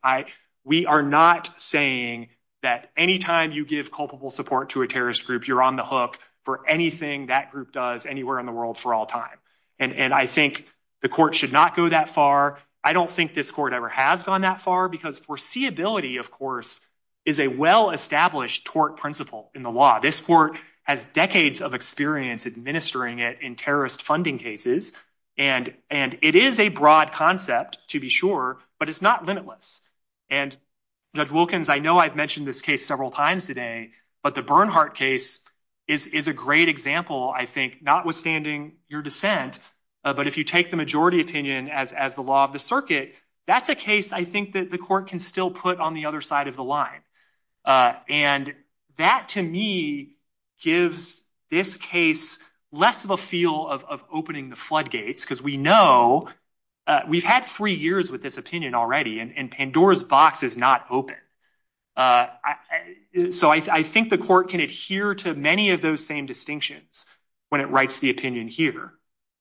We are not saying that any time you give culpable support to a terrorist group, you're on the hook for anything that group does anywhere in the world for all time. And I think the court should not go that far. I don't think this court ever has gone that far because foreseeability, of course, is a well-established tort principle in the law. This court has decades of experience administering it in terrorist funding cases. And it is a broad concept, to be sure, but it's not limitless. And, Judge Wilkins, I know I've mentioned this case several times today, but the Bernhardt case is a great example, I think, notwithstanding your dissent. But if you take the majority opinion as the law of the circuit, that's a case I think that the court can still put on the other side of the line. And that, to me, gives this case less of a feel of opening the floodgates because we know we've had three years with this opinion already and Pandora's box is not open. So I think the court can adhere to many of those same distinctions when it writes the opinion here.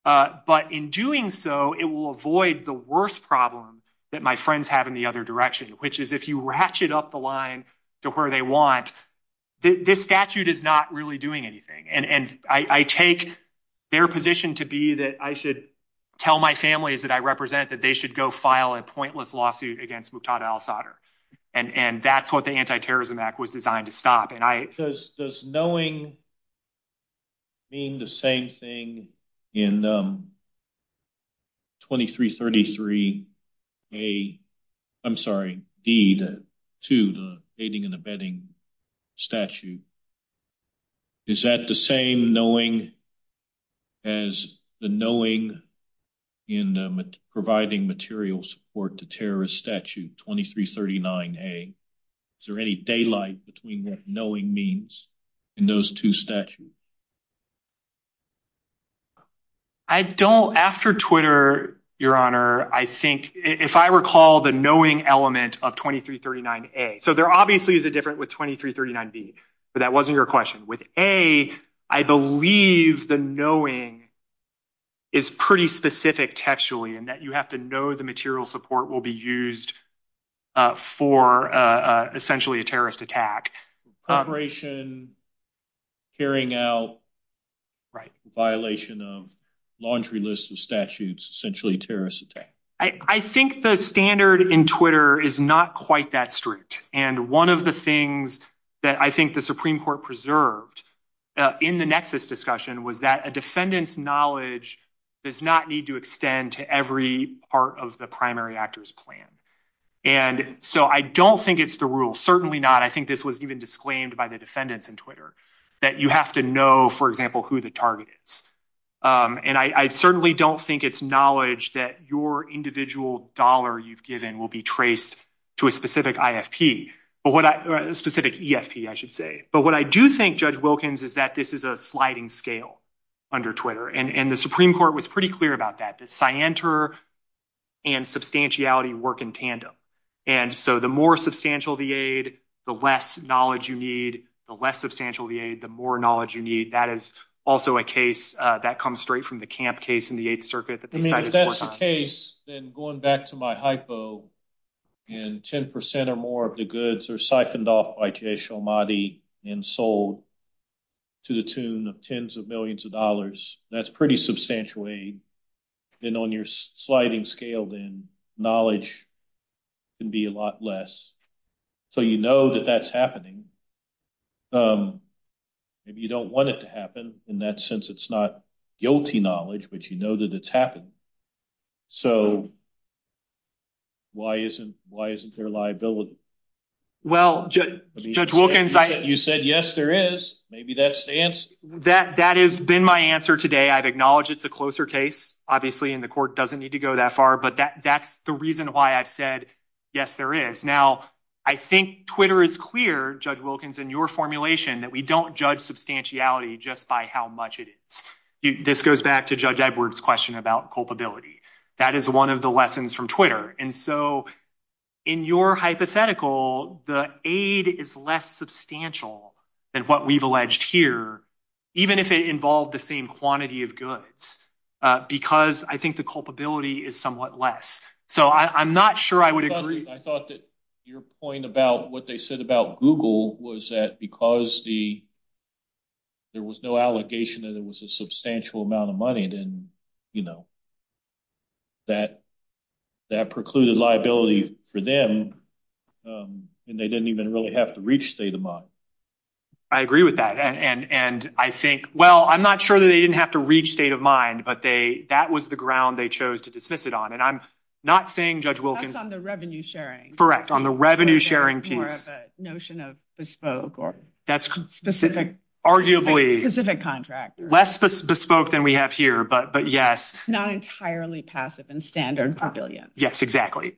But in doing so, it will avoid the worst problem that my friends have in the other direction, which is if you ratchet up the line to where they want, this statute is not really doing anything. And I take their position to be that I should tell my families that I represent that they should go file a pointless lawsuit against Muqtada al-Sadr. And that's what the Anti-Terrorism Act was designed to stop. Does knowing mean the same thing in 2333A, I'm sorry, D, 2, the baiting and abetting statute? Is that the same knowing as the knowing in providing material support to terrorist statute 2339A? Is there any daylight between what knowing means in those two statutes? I don't, after Twitter, Your Honor, I think if I recall the knowing element of 2339A. So there obviously is a difference with 2339B, but that wasn't your question. With A, I believe the knowing is pretty specific textually in that you have to know the material support will be used for essentially a terrorist attack. Corroboration, carrying out violation of laundry list of statutes, essentially a terrorist attack. I think the standard in Twitter is not quite that strict. And one of the things that I think the Supreme Court preserved in the nexus discussion was that a defendant's knowledge does not need to extend to every part of the primary actors plan. And so I don't think it's the rule. Certainly not. I think this was even disclaimed by the defendants in Twitter that you have to know, for example, who the target is. And I certainly don't think it's knowledge that your individual dollar you've given will be traced to a specific IFP or a specific EFP, I should say. But what I do think, Judge Wilkins, is that this is a sliding scale under Twitter. And the Supreme Court was pretty clear about that, that scienter and substantiality work in tandem. And so the more substantial the aid, the less knowledge you need, the less substantial the aid, the more knowledge you need. That is also a case that comes straight from the camp case in the Eighth Circuit. If that's the case, then going back to my hypo, and 10 percent or more of the goods are siphoned off by Jay Shomadi and sold to the tune of tens of millions of dollars, that's pretty substantial aid. Then on your sliding scale, then knowledge can be a lot less. So you know that that's happening. Maybe you don't want it to happen in that sense. It's not guilty knowledge, but you know that it's happening. So why isn't there liability? Well, Judge Wilkins, I— You said yes, there is. Maybe that's the answer. That has been my answer today. I'd acknowledge it's a closer case, obviously, and the court doesn't need to go that far. But that's the reason why I've said yes, there is. Now, I think Twitter is clear, Judge Wilkins, in your formulation that we don't judge substantiality just by how much it is. This goes back to Judge Edwards' question about culpability. That is one of the lessons from Twitter. And so in your hypothetical, the aid is less substantial than what we've alleged here, even if it involved the same quantity of goods, because I think the culpability is somewhat less. So I'm not sure I would agree— I thought that your point about what they said about Google was that because there was no allegation that it was a substantial amount of money, then, you know, that precluded liability for them, and they didn't even really have to reach state of mind. I agree with that. And I think—well, I'm not sure that they didn't have to reach state of mind, but that was the ground they chose to dismiss it on. And I'm not saying Judge Wilkins— That's on the revenue-sharing. Correct, on the revenue-sharing piece. Or the notion of bespoke or specific— Arguably— Specific contract. Less bespoke than we have here, but yes. Not entirely passive and standard per billion. Yes, exactly.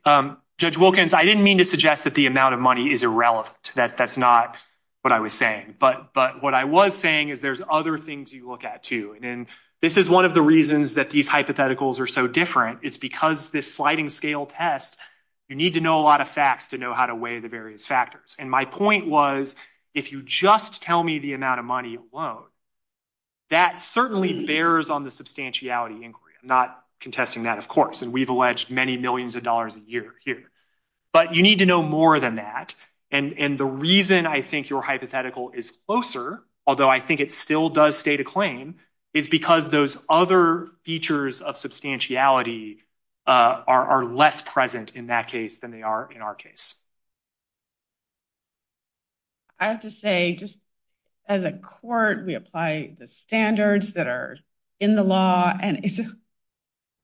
Judge Wilkins, I didn't mean to suggest that the amount of money is irrelevant. That's not what I was saying. But what I was saying is there's other things you look at, too. And this is one of the reasons that these hypotheticals are so different is because this sliding-scale test, you need to know a lot of facts to know how to weigh the various factors. And my point was if you just tell me the amount of money alone, that certainly bears on the substantiality inquiry. I'm not contesting that, of course. And we've alleged many millions of dollars a year here. But you need to know more than that. And the reason I think your hypothetical is closer, although I think it still does state a claim, is because those other features of substantiality are less present in that case than they are in our case. I have to say, just as a court, we apply the standards that are in the law. And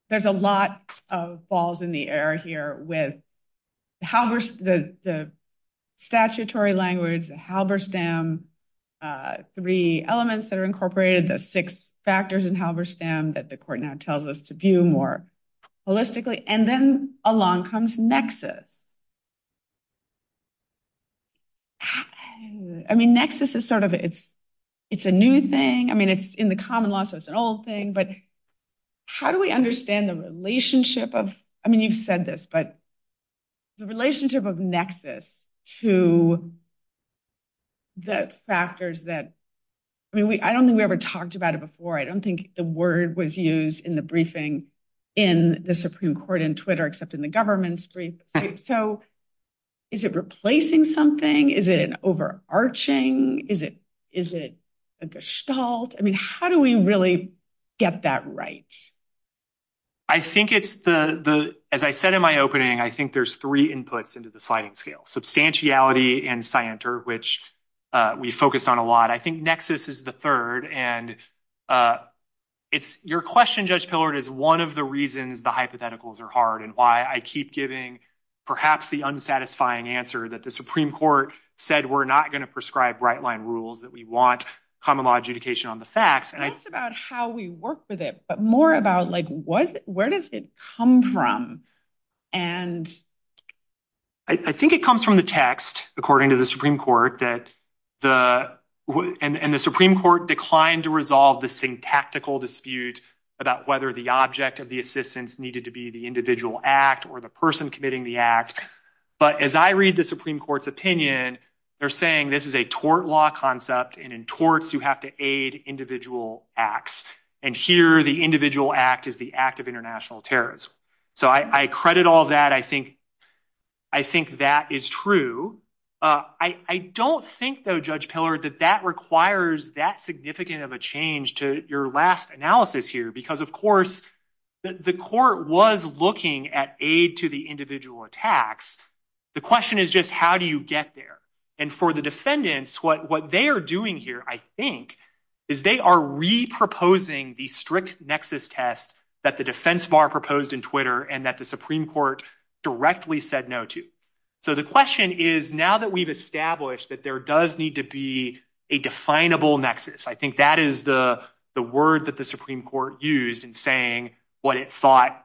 there's a lot of balls in the air here with the statutory language, Halberstam, three elements that are incorporated, the six factors in Halberstam that the court now tells us to view more holistically. And then along comes nexus. I mean, nexus is sort of, it's a new thing. I mean, it's in the common law, so it's an old thing. But how do we understand the relationship of, I mean, you've said this, but the relationship of nexus to the factors that, I mean, I don't think we ever talked about it before. Right, I don't think the word was used in the briefing in the Supreme Court in Twitter, except in the government's brief. So is it replacing something? Is it overarching? Is it a gestalt? I mean, how do we really get that right? I think it's the, as I said in my opening, I think there's three inputs into the sliding scale. Substantiality and scienter, which we focus on a lot. I think nexus is the third. And your question, Judge Pillard, is one of the reasons the hypotheticals are hard and why I keep giving perhaps the unsatisfying answer that the Supreme Court said we're not going to prescribe right-line rules, that we want common law adjudication on the facts. It's not just about how we work with it, but more about, like, where does it come from? And I think it comes from the text, according to the Supreme Court, and the Supreme Court declined to resolve the syntactical dispute about whether the object of the assistance needed to be the individual act or the person committing the act. But as I read the Supreme Court's opinion, they're saying this is a tort law concept, and in torts you have to aid individual acts. And here the individual act is the act of international terrorism. So I credit all that. I think that is true. I don't think, though, Judge Pillard, that that requires that significant of a change to your last analysis here, because, of course, the court was looking at aid to the individual attacks. The question is just how do you get there? And for the defendants, what they are doing here, I think, is they are reproposing the strict nexus test that the defense bar proposed in Twitter and that the Supreme Court directly said no to. So the question is, now that we've established that there does need to be a definable nexus, I think that is the word that the Supreme Court used in saying what it thought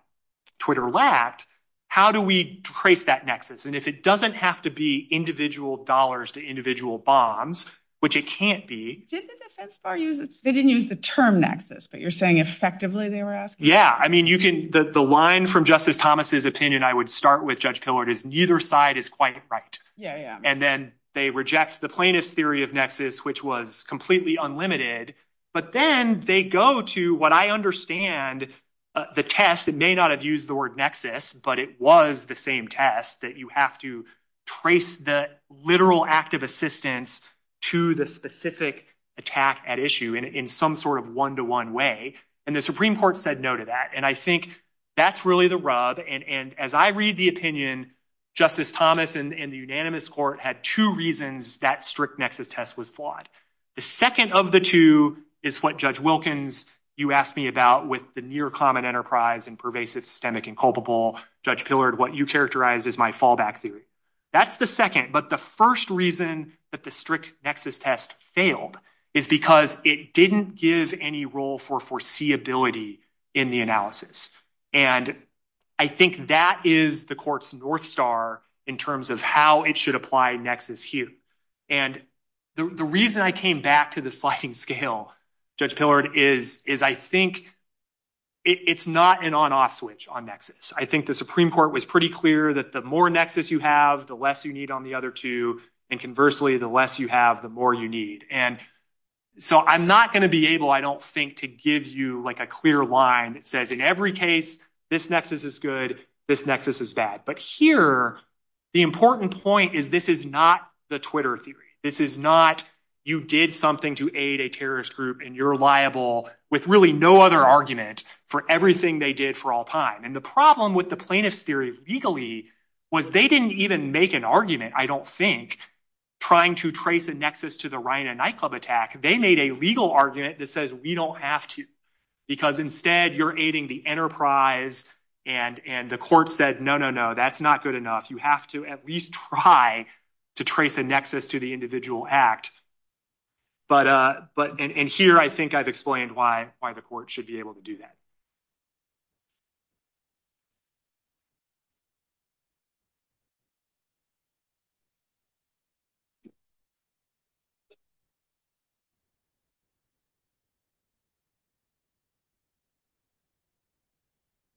Twitter lacked, how do we trace that nexus? And if it doesn't have to be individual dollars to individual bonds, which it can't be. They didn't use the term nexus, but you're saying effectively, they were asking? Yeah. I mean, the line from Justice Thomas's opinion, I would start with Judge Pillard, is neither side is quite correct. And then they reject the plaintiff's theory of nexus, which was completely unlimited. But then they go to what I understand the test that may not have used the word nexus, but it was the same test, that you have to trace the literal act of assistance to the specific attack at issue in some sort of one-to-one way. And the Supreme Court said no to that. And I think that's really the rub. And as I read the opinion, Justice Thomas and the unanimous court had two reasons that strict nexus test was flawed. The second of the two is what Judge Wilkins, you asked me about with the near common enterprise and pervasive systemic and culpable. Judge Pillard, what you characterized is my fallback theory. That's the second, but the first reason that the strict nexus test failed is because it didn't give any role for foreseeability in the analysis. And I think that is the court's north star in terms of how it should apply nexus here. And the reason I came back to the sliding scale, Judge Pillard, is I think it's not an on-off switch on nexus. I think the Supreme Court was pretty clear that the more nexus you have, the less you need on the other two. And conversely, the less you have, the more you need. And so I'm not going to be able, I don't think, to give you like a clear line that says in every case, this nexus is good, this nexus is bad. But here, the important point is this is not the Twitter theory. This is not you did something to aid a terrorist group and you're liable with really no other argument for everything they did for all time. And the problem with the plaintiff's theory legally was they didn't even make an argument, I don't think, trying to trace the nexus to the Ryanite nightclub attack. They made a legal argument that says we don't ask you because instead you're aiding the enterprise. And the court said, no, no, no, that's not good enough. You have to at least try to trace a nexus to the individual act. But in here, I think I've explained why the court should be able to do that.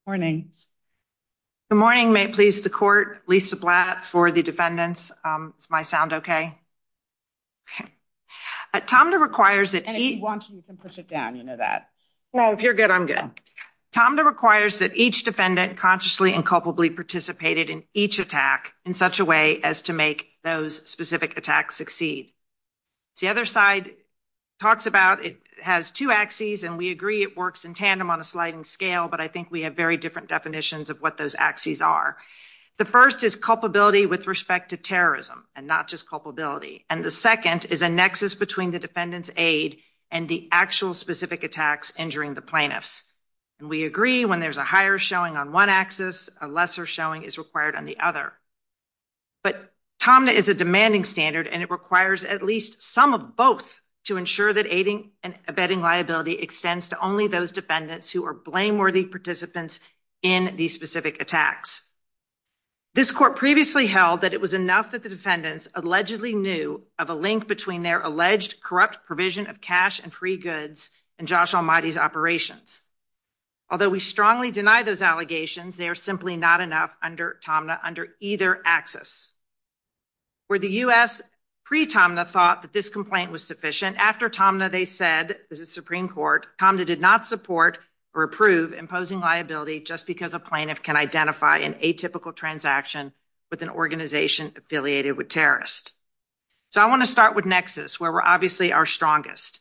Morning. The morning may please the court Lisa black for the defendants. My sound. Okay. Tom requires that he wants to push it down into that. Well, if you're good, I'm good. Tom requires that each defendant consciously and culpably participated in each attack in such a way as to make those specific attacks succeed. The other side talks about it has two axes and we agree it works in tandem on a sliding scale. But I think we have very different definitions of what those axes are. The first is culpability with respect to terrorism and not just culpability. And the second is a nexus between the defendant's aid and the actual specific attacks injuring the plaintiffs. And we agree when there's a higher showing on one axis, a lesser showing is required on the other. But Tom is a demanding standard and it requires at least some of both to ensure that aiding and abetting liability extends to only those defendants who are blameworthy participants in these specific attacks. This court previously held that it was enough that the defendants allegedly knew of a link between their alleged corrupt provision of cash and free goods and Josh almighty's operations. Although we strongly deny those allegations, they are simply not enough under Tom under either access. For the U.S., pre Tomna thought that this complaint was sufficient. After Tomna they said, this is Supreme Court, Tomna did not support or approve imposing liability just because a plaintiff can identify an atypical transaction with an organization affiliated with terrorists. So I want to start with Nexus where we're obviously our strongest.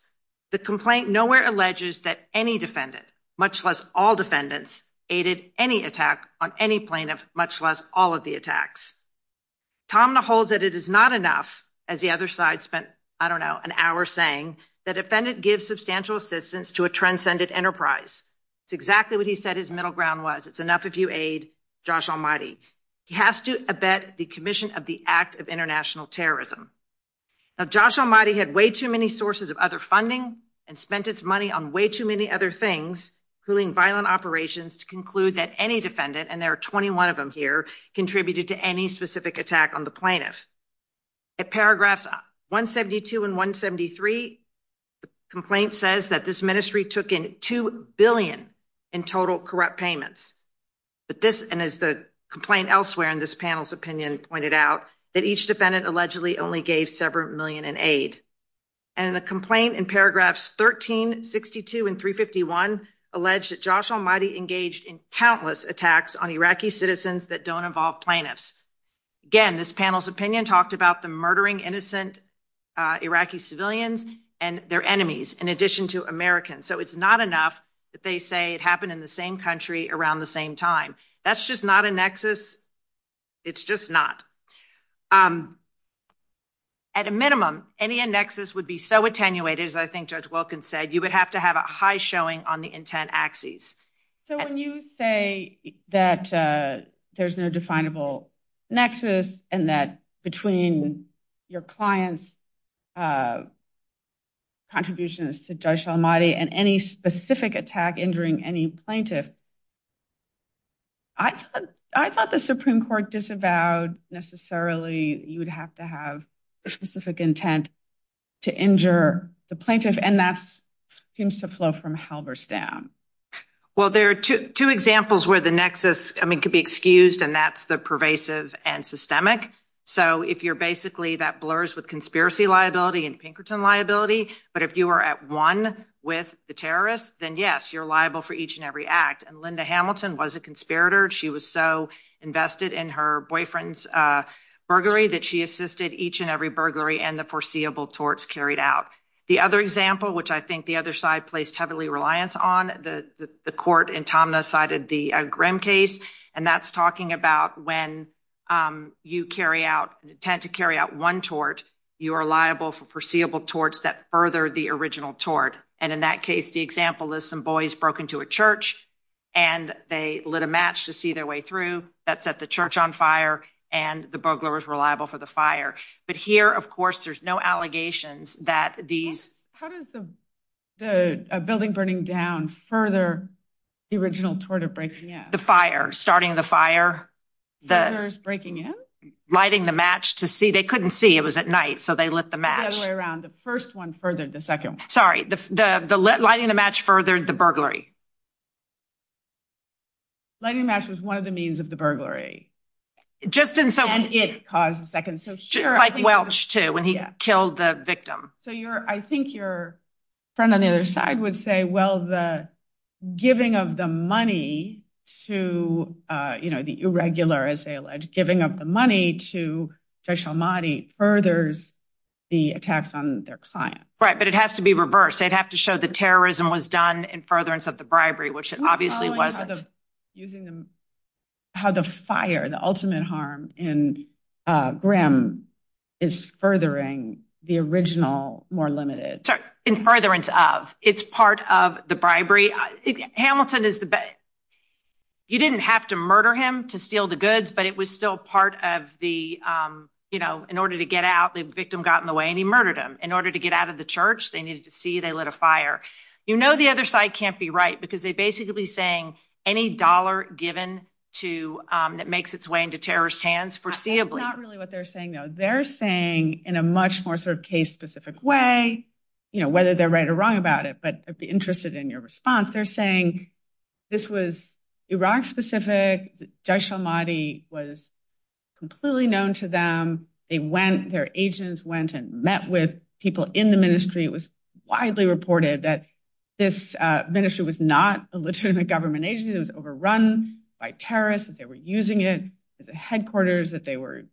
The complaint nowhere alleges that any defendant, much less all defendants, aided any attack on any plaintiff, much less all of the attacks. Tomna holds that it is not enough, as the other side spent, I don't know, an hour saying, that defendant gives substantial assistance to a transcended enterprise. It's exactly what he said his middle ground was. It's enough if you aid Josh almighty. He has to abet the commission of the act of international terrorism. Now, Josh almighty had way too many sources of other funding and spent its money on way too many other things, including violent operations, to conclude that any defendant, and there are 21 of them here, contributed to any specific attack on the plaintiff. At paragraphs 172 and 173, the complaint says that this ministry took in $2 billion in total corrupt payments. And as the complaint elsewhere in this panel's opinion pointed out, that each defendant allegedly only gave several million in aid. And the complaint in paragraphs 1362 and 351 alleged that Josh almighty engaged in countless attacks on Iraqi citizens that don't involve plaintiffs. Again, this panel's opinion talked about the murdering innocent Iraqi civilians and their enemies, in addition to Americans. So, it's not enough that they say it happened in the same country around the same time. That's just not a nexus. It's just not. At a minimum, any nexus would be so attenuated, as I think Judge Wilkins said, you would have to have a high showing on the intent axes. So, when you say that there's no definable nexus, and that between your client's contributions to Josh almighty and any specific attack injuring any plaintiff, I thought the Supreme Court disavowed necessarily you would have to have specific intent to injure the plaintiff, and that seems to flow from Halberstam. Well, there are two examples where the nexus could be excused, and that's the pervasive and systemic. So, if you're basically that blurs with conspiracy liability and Pinkerton liability, but if you are at one with the terrorist, then yes, you're liable for each and every act. And Linda Hamilton was a conspirator. She was so invested in her boyfriend's burglary that she assisted each and every burglary and the foreseeable torts carried out. The other example, which I think the other side placed heavily reliance on the court and Tom decided the grim case, and that's talking about when you carry out tend to carry out one torch, you are liable for perceivable towards that further the original toward. And in that case, the example is some boys broken to a church, and they lit a match to see their way through that set the church on fire and the burglars reliable for the fire. But here, of course, there's no allegations that these, how does the, the building burning down further? The original tort of breaking the fire, starting the fire, the breaking in lighting the match to see they couldn't see it was at night. So, they let them around the first one further. The second, sorry, the lighting the match furthered the burglary. Lighting the match was one of the means of the burglary. Just didn't it cause a second. So, sure. When he killed the victim. So, you're, I think your friend on the other side would say, well, the giving of the money to the irregular, as they alleged giving up the money to special money furthers the attacks on their client. Right, but it has to be reversed. They'd have to show the terrorism was done in furtherance of the bribery, which obviously wasn't using them. How the fire, the ultimate harm in Graham is furthering the original more limited in furtherance of it's part of the bribery. Hamilton is the best. You didn't have to murder him to steal the goods, but it was still part of the, you know, in order to get out the victim got in the way and he murdered him in order to get out of the church. They needed to see they lit a fire. You know, the other side can't be right because they basically saying any dollar given to that makes its way into terrorist hands foreseeably. That's not really what they're saying. Now, they're saying in a much more sort of case specific way, you know, whether they're right or wrong about it. But I'd be interested in your response. They're saying this was Iraq specific. It was widely reported that this ministry was not a legitimate government agencies overrun by terrorists. They were using it at the headquarters that they were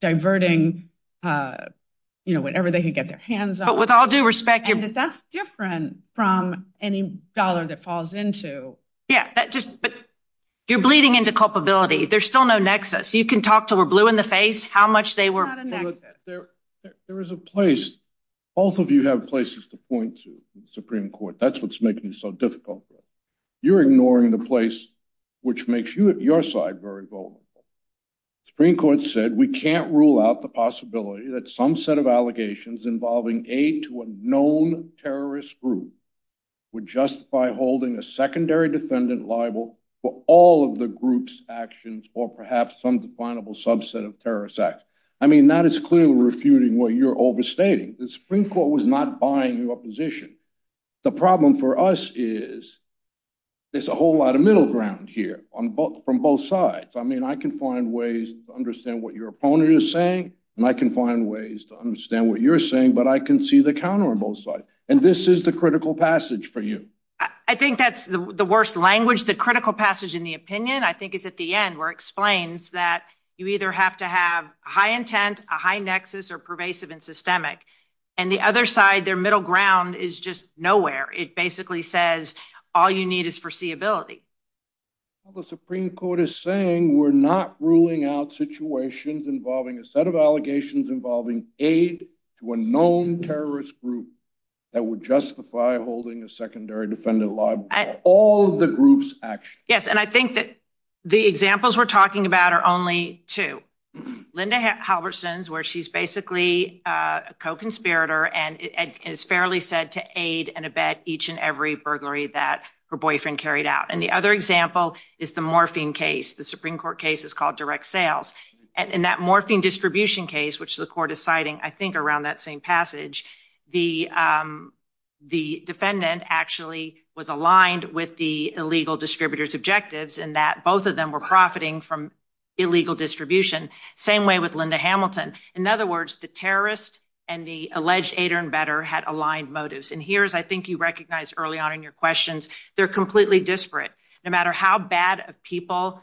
diverting, you know, whatever they could get their hands. But with all due respect, that's different from any dollar that falls into. Yeah, that just but you're bleeding into culpability. There's still no Nexus. You can talk to a blue in the face how much they were. There is a place. Both of you have places to point to Supreme Court. That's what's making so difficult. You're ignoring the place, which makes you at your side very vulnerable. Supreme Court said we can't rule out the possibility that some set of allegations involving a to a known terrorist group would justify holding a secondary defendant liable for all of the group's actions or perhaps some definable subset of terrorist acts. I mean, that is clearly refuting what you're overstating. The Supreme Court was not buying your position. The problem for us is there's a whole lot of middle ground here on both from both sides. I mean, I can find ways to understand what your opponent is saying, and I can find ways to understand what you're saying. But I can see the counter on both sides. And this is the critical passage for you. I think that's the worst language, the critical passage in the opinion. I think it's at the end where explains that you either have to have high intent, a high Nexus or pervasive and systemic. And the other side, their middle ground is just nowhere. It basically says all you need is foreseeability. The Supreme Court is saying we're not ruling out situations involving a set of allegations involving a to a known terrorist group that would justify holding the secondary defendant liable for all of the group's actions. Yes, and I think that the examples we're talking about are only two. Linda Halverson's where she's basically a co-conspirator and is fairly said to aid and abet each and every burglary that her boyfriend carried out. And the other example is the morphine case. The Supreme Court case is called direct sales. And that morphine distribution case, which the court is citing, I think, around that same passage. The defendant actually was aligned with the illegal distributors objectives and that both of them were profiting from illegal distribution. Same way with Linda Hamilton. In other words, the terrorist and the alleged aid and better had aligned motives. And here's I think you recognize early on in your questions. They're completely disparate. No matter how bad of people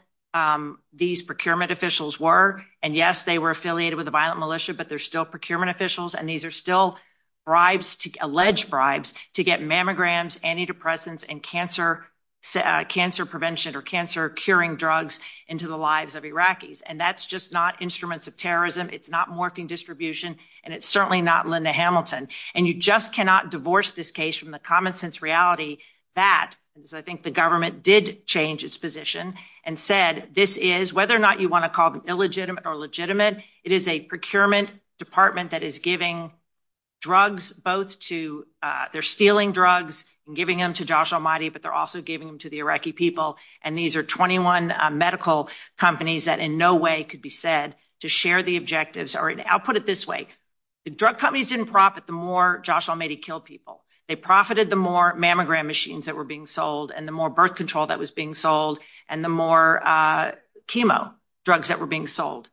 these procurement officials were. And, yes, they were affiliated with a violent militia, but they're still procurement officials. And these are still bribes to alleged bribes to get mammograms, antidepressants and cancer, cancer prevention or cancer curing drugs into the lives of Iraqis. And that's just not instruments of terrorism. It's not morphine distribution. And it's certainly not Linda Hamilton. And you just cannot divorce this case from the common sense reality that I think the government did change its position and said this is whether or not you want to call them illegitimate or legitimate. It is a procurement department that is giving drugs both to they're stealing drugs and giving them to Josh Almighty, but they're also giving them to the Iraqi people. And these are 21 medical companies that in no way could be said to share the objectives. I'll put it this way. The drug companies didn't profit the more Josh Almighty killed people. They profited the more mammogram machines that were being sold and the more birth control that was being sold and the more chemo drugs that were being sold.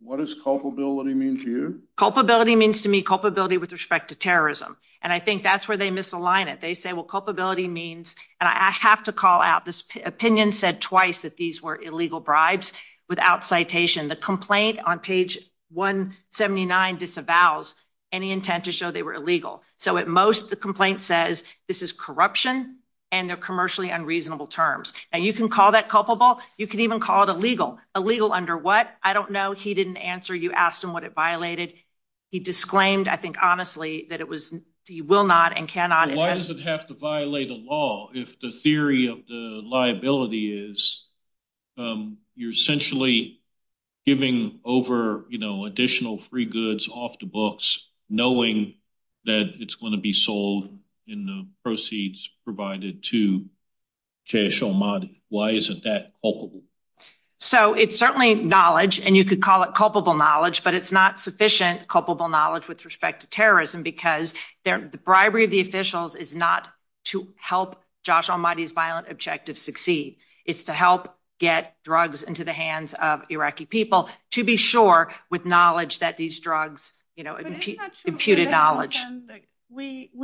What does culpability mean to you? Culpability means to me culpability with respect to terrorism. And I think that's where they misalign it. They say, well, culpability means and I have to call out this opinion said twice that these were illegal bribes without citation. The complaint on page 179 disavows any intent to show they were illegal. So at most the complaint says this is corruption and they're commercially unreasonable terms. And you can call that culpable. You can even call it illegal. Illegal under what? I don't know. He didn't answer. You asked him what it violated. He disclaimed, I think, honestly, that it was he will not and cannot. Why does it have to violate the law? If the theory of the liability is you're essentially giving over additional free goods off the books, knowing that it's going to be sold in the proceeds provided to cash. Oh, my. Why isn't that? So it's certainly knowledge and you could call it culpable knowledge, but it's not sufficient. Culpable knowledge with respect to terrorism because the bribery of the officials is not to help Josh Almighty's violent objective succeed. It's to help get drugs into the hands of Iraqi people to be sure with knowledge that these drugs, you know, imputed knowledge.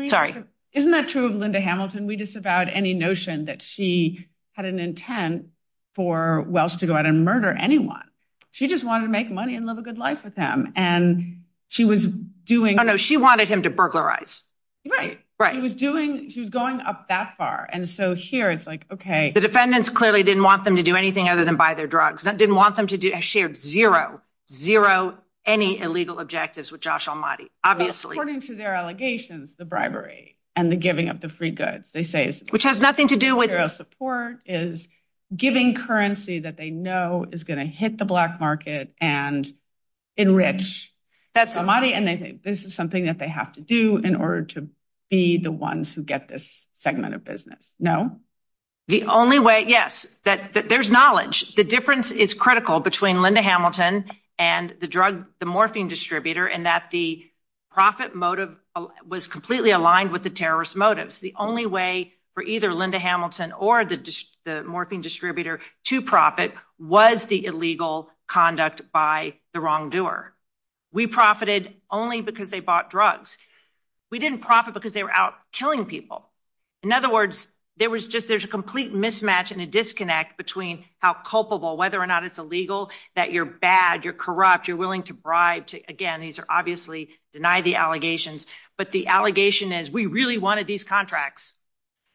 Sorry. Isn't that true of Linda Hamilton? We disavowed any notion that she had an intent for Welsh to go out and murder anyone. She just wanted to make money and live a good life with him. And she was doing. Oh, no, she wanted him to burglarize. Right. Right. She was doing. She's gone up that far. And so here it's like, OK. The defendants clearly didn't want them to do anything other than buy their drugs. Didn't want them to do. I shared zero, zero, any illegal objectives with Josh Almighty. Obviously, according to their allegations, the bribery and the giving of the free goods, they say, which has nothing to do with support, is giving currency that they know is going to hit the black market and enrich that somebody. And this is something that they have to do in order to be the ones who get this segment of business. No, the only way. Yes, that there's knowledge. The difference is critical between Linda Hamilton and the drug, the morphine distributor, and that the profit motive was completely aligned with the terrorist motives. The only way for either Linda Hamilton or the morphine distributor to profit was the illegal conduct by the wrongdoer. We profited only because they bought drugs. We didn't profit because they were out killing people. In other words, there was just there's a complete mismatch and a disconnect between how culpable, whether or not it's illegal, that you're bad, you're corrupt, you're willing to bribe. Again, these are obviously deny the allegations. But the allegation is we really wanted these contracts.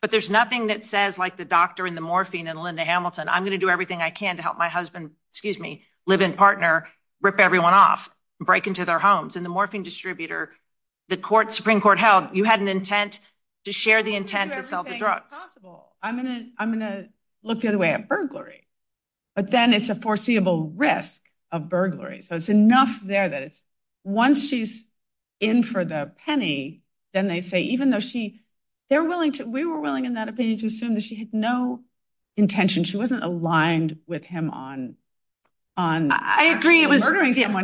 But there's nothing that says, like the doctor and the morphine and Linda Hamilton, I'm going to do everything I can to help my husband, excuse me, live in partner, rip everyone off, break into their homes. And the morphine distributor, the Supreme Court held, you had an intent to share the intent to sell the drugs. I'm going to look the other way at burglary. But then it's a foreseeable risk of burglary. So it's enough there that once she's in for the penny, then they say, even though we were willing in that opinion to assume that she had no intention, she wasn't aligned with him on murdering.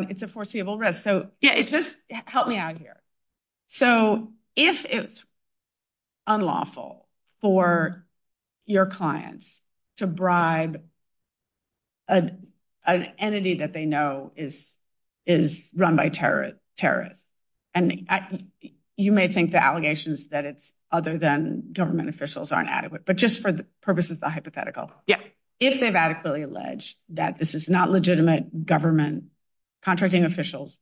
It's a foreseeable risk. Help me out here. So if it's unlawful for your clients to bribe an entity that they know is run by terrorists, and you may think the allegations that it's other than government officials aren't adequate, but just for the purposes of hypothetical. If they've adequately alleged that this is not legitimate government contracting officials,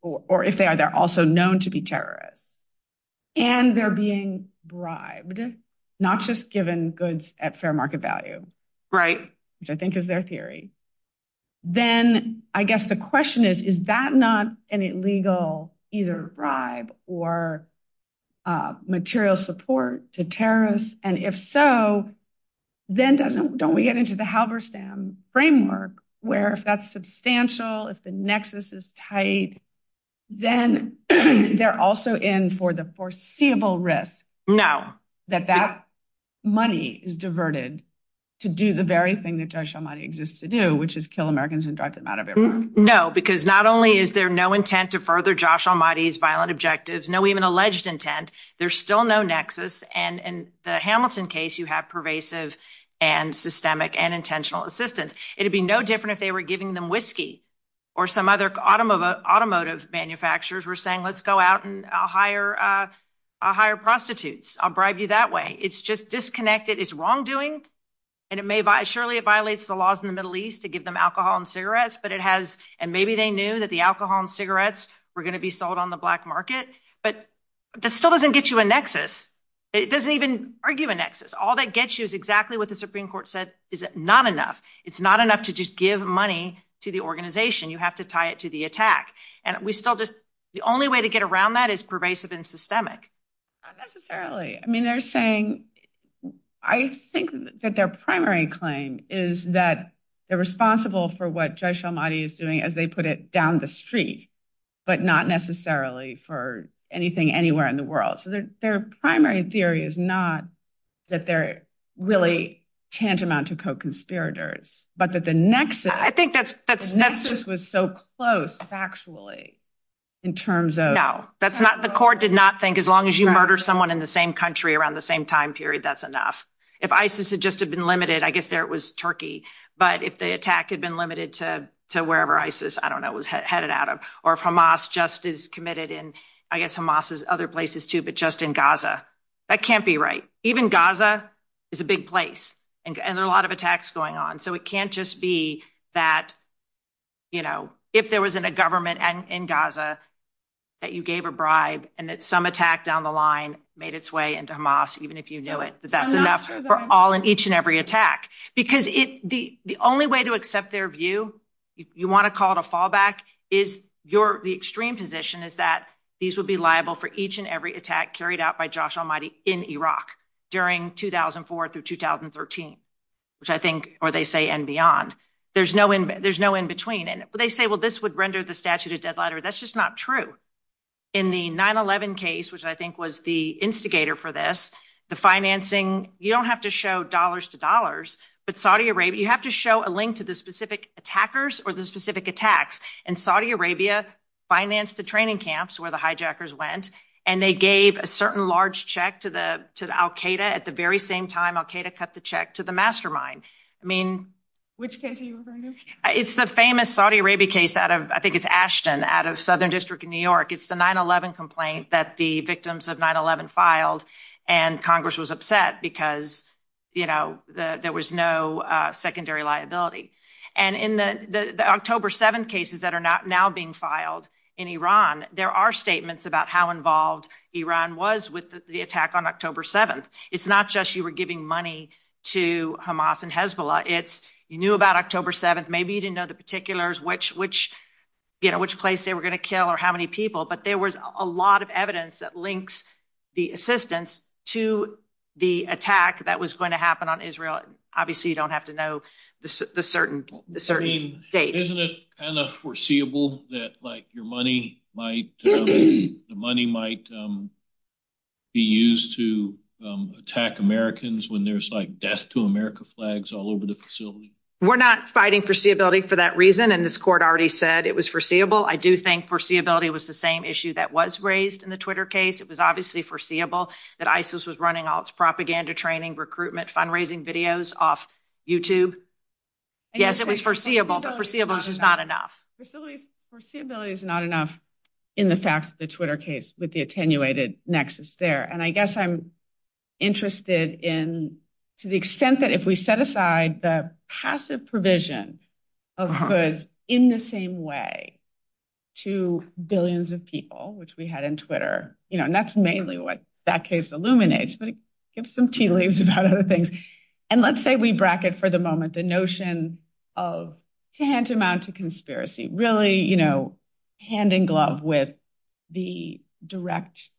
or if they're also known to be terrorists, and they're being bribed, not just given goods at fair market value, which I think is their theory. Then I guess the question is, is that not an illegal either bribe or material support to terrorists? And if so, then don't we get into the Halberstam framework, where if that's substantial, if the nexus is tight, then they're also in for the foreseeable risk. No. That that money is diverted to do the very thing that Josh Almighty exists to do, which is kill Americans and drive them out of their homes. No, because not only is there no intent to further Josh Almighty's violent objectives, no even alleged intent, there's still no nexus. And in the Hamilton case, you have pervasive and systemic and intentional assistance. It would be no different if they were giving them whiskey, or some other automotive manufacturers were saying, let's go out and hire prostitutes. I'll bribe you that way. It's just disconnected. It's wrongdoing, and surely it violates the laws in the Middle East to give them alcohol and cigarettes, and maybe they knew that the alcohol and cigarettes were going to be sold on the black market, but that still doesn't get you a nexus. It doesn't even argue a nexus. All that gets you is exactly what the Supreme Court said is not enough. It's not enough to just give money to the organization. You have to tie it to the attack. And we still just, the only way to get around that is pervasive and systemic. I mean, they're saying, I think that their primary claim is that they're responsible for what Josh Almighty is doing, as they put it, down the street, but not necessarily for anything anywhere in the world. So their primary theory is not that they're really tantamount to co-conspirators, but that the nexus was so close, factually, in terms of- No, the court did not think as long as you murder someone in the same country around the same time period, that's enough. If ISIS had just been limited, I guess there it was Turkey, but if the attack had been limited to wherever ISIS, I don't know, was headed out of, or if Hamas just is committed in, I guess Hamas is other places too, but just in Gaza. That can't be right. Even Gaza is a big place, and there's a lot of attacks going on. So it can't just be that if there was a government in Gaza that you gave a bribe and that some attack down the line made its way into Hamas, even if you knew it, that that's enough for each and every attack. Because the only way to accept their view, you want to call it a fallback, the extreme position is that these will be liable for each and every attack carried out by Josh Almighty in Iraq during 2004 through 2013. Or they say and beyond. There's no in-between. They say, well, this would render the statute a dead letter. That's just not true. In the 9-11 case, which I think was the instigator for this, the financing, you don't have to show dollars to dollars, but Saudi Arabia, you have to show a link to the specific attackers or the specific attacks. And Saudi Arabia financed the training camps where the hijackers went, and they gave a certain large check to the al-Qaeda. At the very same time, al-Qaeda cut the check to the mastermind. Which case are you referring to? It's the famous Saudi Arabia case out of, I think it's Ashton, out of Southern District in New York. It's the 9-11 complaint that the victims of 9-11 filed, and Congress was upset because there was no secondary liability. And in the October 7th cases that are now being filed in Iran, there are statements about how involved Iran was with the attack on October 7th. It's not just you were giving money to Hamas and Hezbollah. It's you knew about October 7th. Maybe you didn't know the particulars, which place they were going to kill or how many people. But there was a lot of evidence that links the assistance to the attack that was going to happen on Israel. Obviously, you don't have to know the certain states. Isn't it foreseeable that your money might be used to attack Americans when there's death to America flags all over the facility? We're not fighting foreseeability for that reason, and this court already said it was foreseeable. I do think foreseeability was the same issue that was raised in the Twitter case. It was obviously foreseeable that ISIS was running all its propaganda training, recruitment, fundraising videos off YouTube. Yes, it was foreseeable, but foreseeability is not enough. Foreseeability is not enough in the facts of the Twitter case with the attenuated nexus there. I guess I'm interested in to the extent that if we set aside the passive provision of goods in the same way to billions of people, which we had in Twitter, and that's mainly what that case illuminates. Let's say we bracket for the moment the notion of can't amount to conspiracy. Really hand in glove with the direct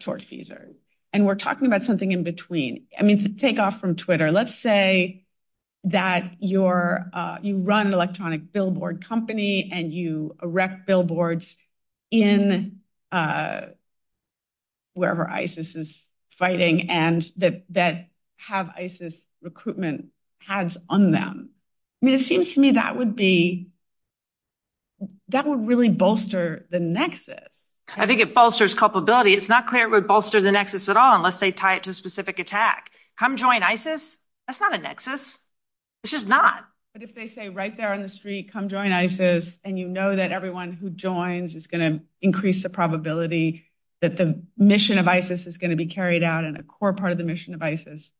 source users. We're talking about something in between. To take off from Twitter, let's say that you run an electronic billboard company and you erect billboards in wherever ISIS is fighting and that have ISIS recruitment tags on them. It seems to me that would really bolster the nexus. I think it bolsters culpability. It's not clear it would bolster the nexus at all unless they tie it to a specific attack. Come join ISIS? That's not a nexus. It's just not. But if they say right there on the street, come join ISIS, and you know that everyone who joins is going to increase the probability that the mission of ISIS is going to be carried out as a core part of the mission of ISIS.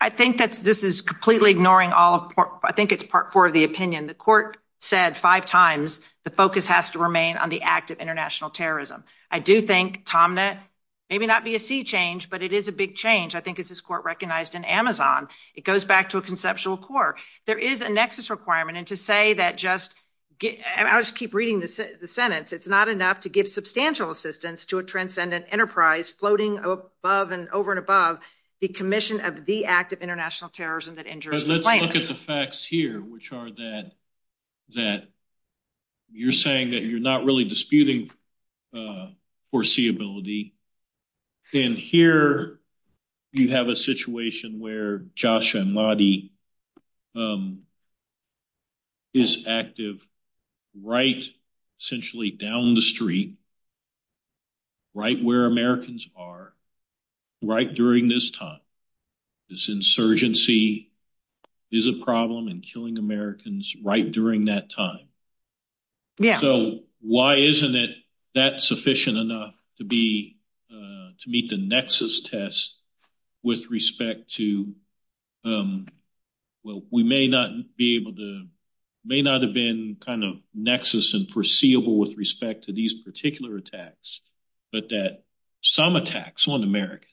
I think that this is completely ignoring all. I think it's part four of the opinion. The court said five times the focus has to remain on the act of international terrorism. I do think Tomnett, maybe not be a sea change, but it is a big change. I think it's his court recognized in Amazon. It goes back to a conceptual core. There is a nexus requirement. And to say that just ‑‑ I just keep reading the sentence. It's not enough to give substantial assistance to a transcendent enterprise floating above and over and above the commission of the act of international terrorism that injures the plane. Let's look at the facts here, which are that you're saying that you're not really disputing foreseeability. And here you have a situation where Josh and Marty is active right essentially down the street, right where Americans are, right during this time. This insurgency is a problem in killing Americans right during that time. So why isn't it that sufficient enough to be ‑‑ to meet the nexus test with respect to ‑‑ we may not be able to ‑‑ may not have been kind of nexus and foreseeable with respect to these particular attacks, but that some attacks on Americans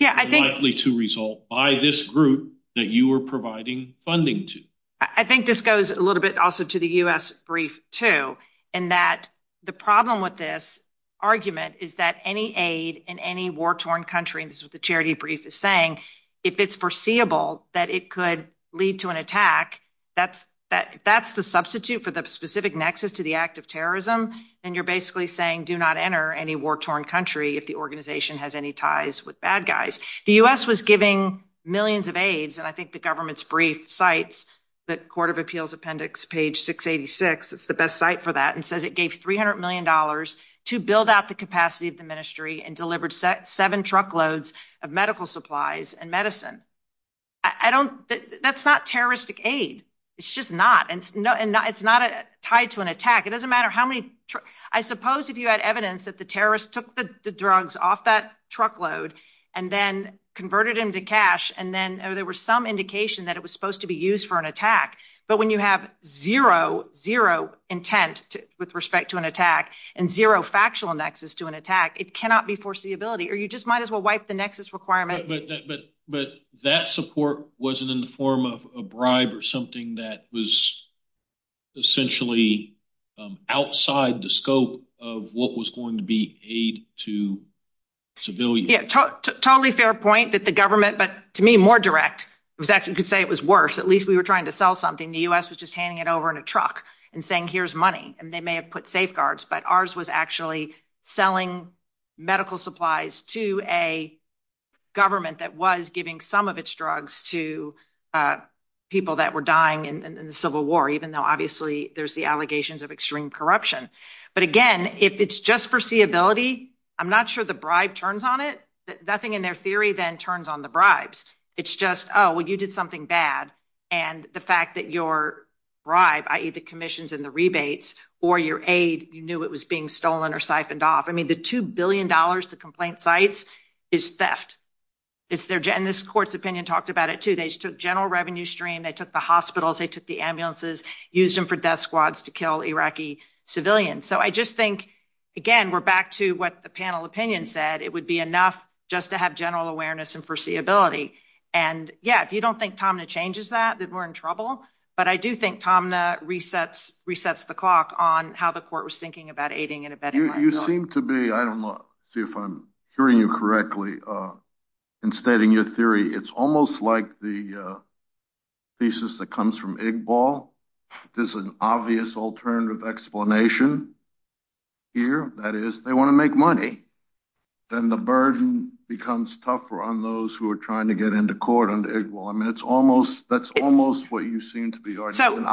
are likely to result by this group that you are providing funding to. I think this goes a little bit also to the U.S. brief, too, in that the problem with this argument is that any aid in any war‑torn country, and this is what the charity brief is saying, if it's foreseeable that it could lead to an attack, that's the substitute for the specific nexus to the act of terrorism. And you're basically saying do not enter any war‑torn country if the organization has any ties with bad guys. The U.S. was giving millions of aids, and I think the government's brief cites the court of appeals appendix page 686, it's the best site for that, and says it gave $300 million to build out the capacity of the ministry and delivered seven truckloads of medical supplies and medicine. That's not terroristic aid. It's just not. And it's not tied to an attack. It doesn't matter how many ‑‑ I suppose if you had evidence that the terrorist took the drugs off that truckload and then converted them to cash and then there was some indication that it was supposed to be used for an attack, but when you have zero, zero intent with respect to an attack and zero factual nexus to an attack, it cannot be foreseeability. Or you just might as well wipe the nexus requirement. But that support wasn't in the form of a bribe or something that was essentially outside the scope of what was going to be aid to civilians. Yeah, totally fair point that the government, but to me more direct was that you could say it was worse. At least we were trying to sell something. The U.S. was just handing it over in a truck and saying here's money, and they may have put safeguards, but ours was actually selling medical supplies to a government that was giving some of its drugs to people that were dying in the Civil War, even though obviously there's the allegations of extreme corruption. But again, if it's just foreseeability, I'm not sure the bribe turns on it. Nothing in their theory then turns on the bribes. It's just, oh, well, you did something bad, and the fact that your bribe, i.e., the commissions and the rebates, or your aid, you knew it was being stolen or siphoned off. I mean, the $2 billion to complaint sites is theft. And this court's opinion talked about it, too. They took general revenue stream, they took the hospitals, they took the ambulances, used them for death squads to kill Iraqi civilians. So I just think, again, we're back to what the panel opinion said. It would be enough just to have general awareness and foreseeability. And, yeah, if you don't think Tomna changes that, then we're in trouble. But I do think Tomna resets the clock on how the court was thinking about aiding and abetting. You seem to be, I don't know if I'm hearing you correctly, in stating your theory, it's almost like the thesis that comes from IGBAL. There's an obvious alternative explanation here, i.e., they want to make money. Then the burden becomes tougher on those who are trying to get into court under IGBAL. I mean, that's almost what you seem to be arguing.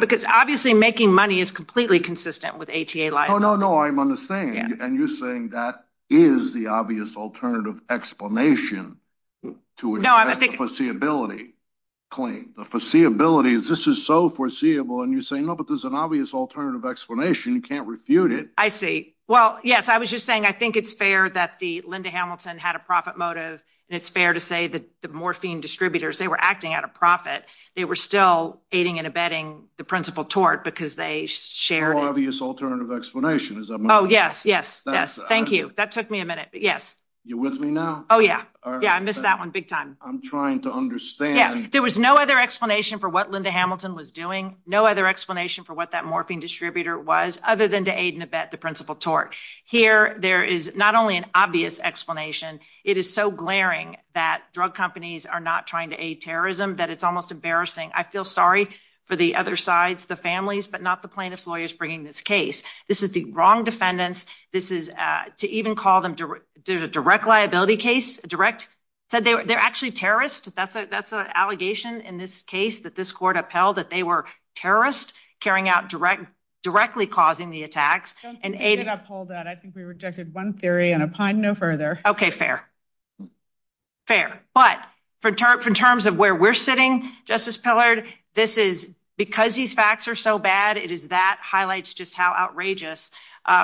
Because, obviously, making money is completely consistent with ATA life. No, no, no, I'm understanding. And you're saying that is the obvious alternative explanation to a foreseeability claim. The foreseeability, this is so foreseeable. And you're saying, no, but there's an obvious alternative explanation. You can't refute it. I see. Well, yes, I was just saying, I think it's fair that the Linda Hamilton had a profit motive. And it's fair to say that the morphine distributors, they were acting at a profit. They were still aiding and abetting the principal tort because they shared. An obvious alternative explanation. Oh, yes, yes, yes. Thank you. That took me a minute. Yes. You with me now? Oh, yeah. Yeah, I missed that one big time. I'm trying to understand. There was no other explanation for what Linda Hamilton was doing. No other explanation for what that morphine distributor was other than to aid and abet the principal tort. Here, there is not only an obvious explanation. It is so glaring that drug companies are not trying to aid terrorism that it's almost embarrassing. I feel sorry for the other sides, the families, but not the plaintiff's lawyers bringing this case. This is the wrong defendants. This is to even call them direct liability case direct. They're actually terrorists. That's an allegation in this case that this court upheld that they were terrorists carrying out direct directly causing the attacks. And I pulled that. I think we rejected one theory and a plan. No further. Okay. Fair. Fair. But in terms of where we're sitting, Justice Pillard, this is because these facts are so bad. It is that highlights just how outrageous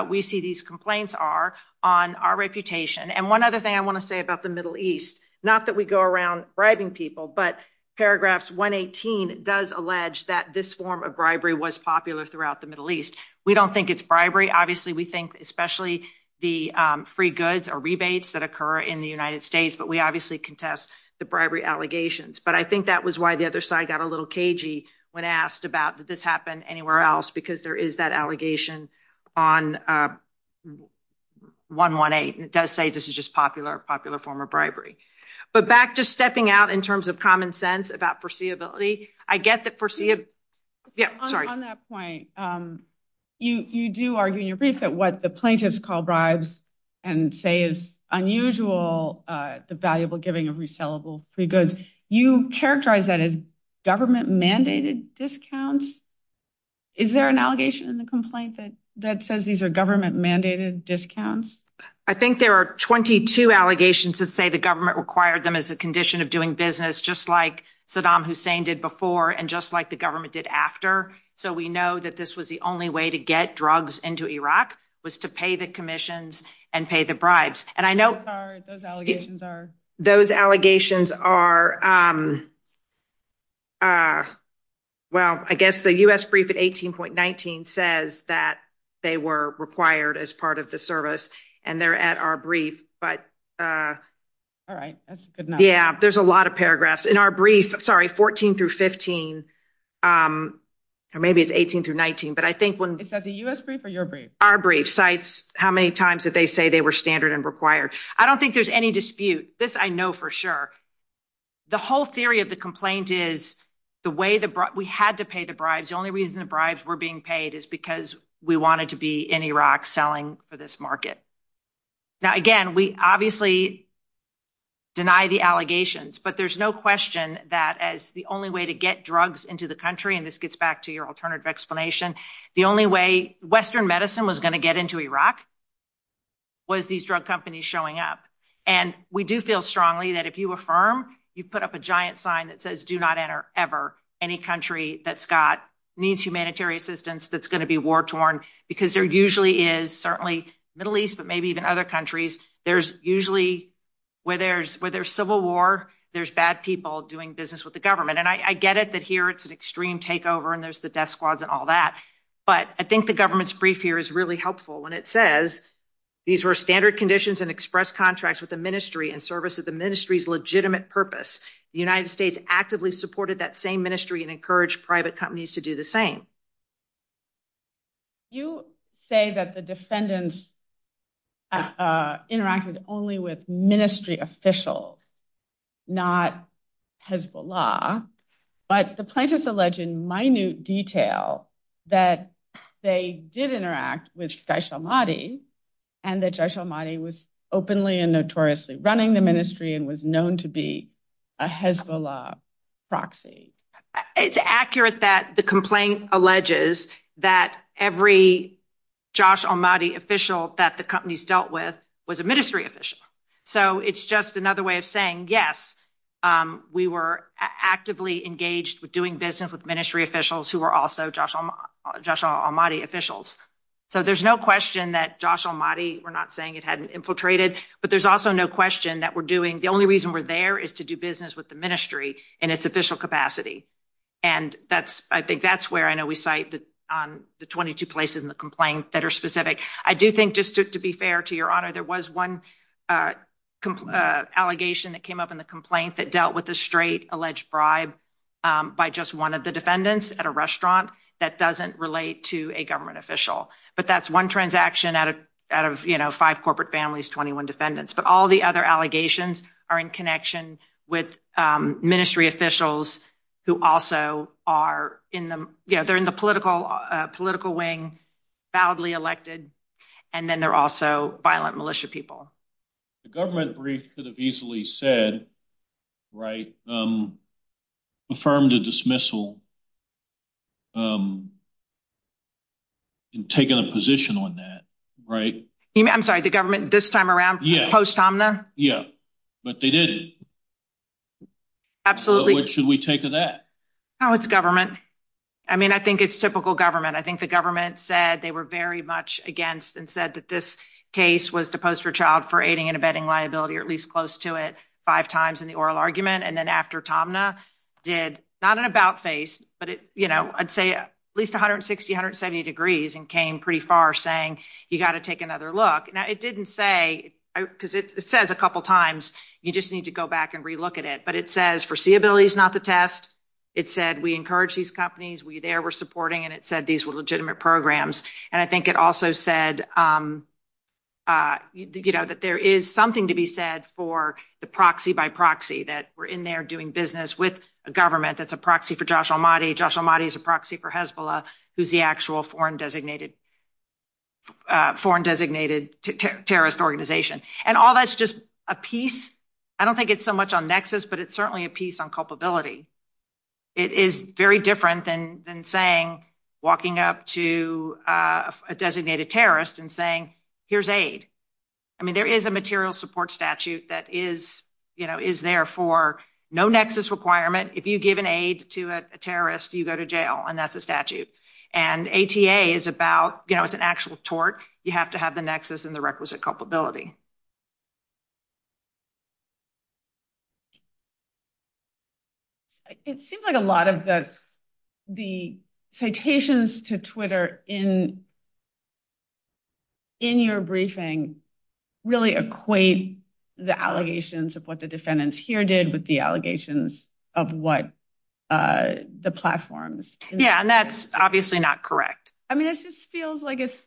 we see these complaints are on our reputation. And one other thing I want to say about the Middle East, not that we go around bribing people, but paragraphs 118 does allege that this form of bribery was popular throughout the Middle East. We don't think it's bribery. Obviously, we think especially the free goods or rebates that occur in the United States, but we obviously contest the bribery allegations. But I think that was why the other side got a little cagey when asked about this happened anywhere else, because there is that allegation on 118. It does say this is just popular, popular form of bribery. But back to stepping out in terms of common sense about foreseeability. On that point, you do argue in your brief that what the plaintiffs call bribes and say is unusual, the valuable giving of resellable free goods. You characterize that as government-mandated discounts. Is there an allegation in the complaint that says these are government-mandated discounts? I think there are 22 allegations that say the government required them as a condition of doing business, just like Saddam Hussein did before and just like the government did after. So we know that this was the only way to get drugs into Iraq was to pay the commissions and pay the bribes. Those allegations are, well, I guess the U.S. brief at 18.19 says that they were required as part of the service, and they're at our brief. All right, that's a good number. Yeah, there's a lot of paragraphs. In our brief, sorry, 14 through 15, or maybe it's 18 through 19. Is that the U.S. brief or your brief? Our brief cites how many times that they say they were standard and required. I don't think there's any dispute. This I know for sure. The whole theory of the complaint is we had to pay the bribes. The only reason the bribes were being paid is because we wanted to be in Iraq selling for this market. Now, again, we obviously deny the allegations, but there's no question that as the only way to get drugs into the country, and this gets back to your alternative explanation, the only way Western medicine was going to get into Iraq was these drug companies showing up. And we do feel strongly that if you affirm, you put up a giant sign that says do not enter ever any country that's got needs humanitarian assistance that's going to be war-torn, because there usually is, certainly Middle East, but maybe even other countries, there's usually, where there's civil war, there's bad people doing business with the government. And I get it that here it's an extreme takeover and there's the death squads and all that, but I think the government's brief here is really helpful. And it says these were standard conditions and express contracts with the ministry in service of the ministry's legitimate purpose. The United States actively supported that same ministry and encouraged private companies to do the same. You say that the defendants interacted only with ministry officials, not Hezbollah, but the plaintiffs allege in minute detail that they did interact with Jaysh al-Mahdi, and that Jaysh al-Mahdi was openly and notoriously running the ministry and was known to be a Hezbollah proxy. It's accurate that the complaint alleges that every Jaysh al-Mahdi official that the companies dealt with was a ministry official. So it's just another way of saying yes, we were actively engaged with doing business with ministry officials who were also Jaysh al-Mahdi officials. So there's no question that Jaysh al-Mahdi, we're not saying it hadn't infiltrated, but there's also no question that we're doing, the only reason we're there is to do business with the ministry in its official capacity. And that's, I think that's where I know we cite the 22 places in the complaint that are specific. I do think just to be fair to your honor, there was one allegation that came up in the complaint that dealt with a straight alleged bribe by just one of the defendants at a restaurant that doesn't relate to a government official. But that's one transaction out of, you know, five corporate families, 21 defendants. But all the other allegations are in connection with ministry officials who also are in the, you know, they're in the political wing, badly elected, and then they're also violent militia people. The government brief could have easily said, right, affirmed a dismissal and taken a position on that, right? I'm sorry, the government this time around, post-Omni? Yeah, but they didn't. Absolutely. So what should we take of that? Oh, it's government. I mean, I think it's typical government. I think the government said they were very much against and said that this case was to post for child for aiding and abetting liability, or at least close to it, five times in the oral argument. And then after Tomna did, not an about face, but it, you know, I'd say at least 160, 170 degrees and came pretty far saying you got to take another look. Now, it didn't say, because it says a couple of times, you just need to go back and relook at it. But it says foreseeability is not the test. It said we encourage these companies. We there were supporting, and it said these were legitimate programs. And I think it also said, you know, that there is something to be said for the proxy by proxy, that we're in there doing business with a government that's a proxy for Josh Ahmadi. Josh Ahmadi is a proxy for Hezbollah, who's the actual foreign designated terrorist organization. And all that's just a piece. I don't think it's so much on nexus, but it's certainly a piece on culpability. It is very different than saying, walking up to a designated terrorist and saying, here's aid. I mean, there is a material support statute that is, you know, is there for no nexus requirement. If you give an aid to a terrorist, you go to jail, and that's a statute. And ATA is about, you know, it's an actual tort. You have to have the nexus and the requisite culpability. It seems like a lot of the citations to Twitter in your briefing really equate the allegations of what the defendants here did with the allegations of what the platforms. Yeah, and that's obviously not correct. I mean, it just feels like it's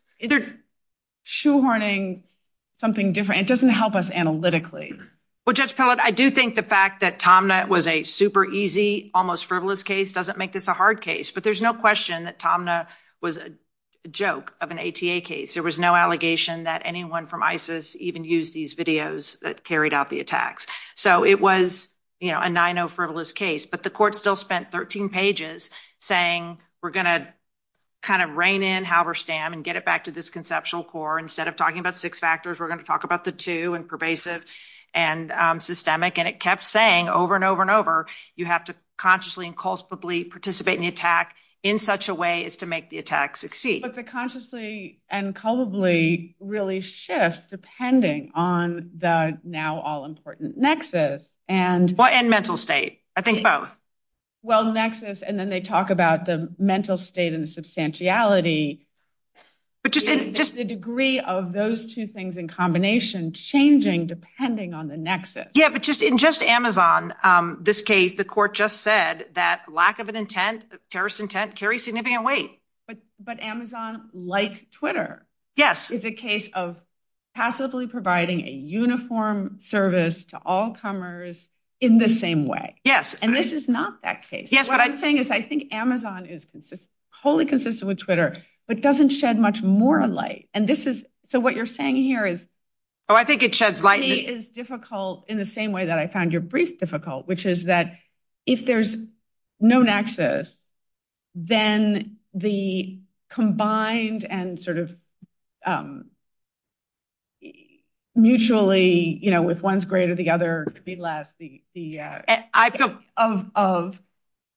shoehorning something different. It doesn't help us analytically. Well, Judge Pellett, I do think the fact that Tomna was a super easy, almost frivolous case doesn't make this a hard case. But there's no question that Tomna was a joke of an ATA case. There was no allegation that anyone from ISIS even used these videos that carried out the attacks. So it was, you know, a 9-0 frivolous case. But the court still spent 13 pages saying, we're going to kind of rein in Halberstam and get it back to this conceptual core. Instead of talking about six factors, we're going to talk about the two and pervasive and systemic. And it kept saying over and over and over, you have to consciously and culpably participate in the attack in such a way as to make the attack succeed. But the consciously and culpably really shifts depending on the now all-important nexus. And mental state. I think both. Well, nexus, and then they talk about the mental state and the substantiality. But just the degree of those two things in combination changing depending on the nexus. Yeah, but just in just Amazon, this case, the court just said that lack of an intent, terrorist intent, carries significant weight. But Amazon, like Twitter, is a case of passively providing a uniform service to all comers in the same way. Yes. And this is not that case. Yes. What I'm saying is I think Amazon is wholly consistent with Twitter, but doesn't shed much more light. And this is so what you're saying here is. Oh, I think it shows light. It is difficult in the same way that I found your brief difficult, which is that if there's no nexus, then the combined and sort of. Mutually, you know, with one's greater, the other could be less. The idea of of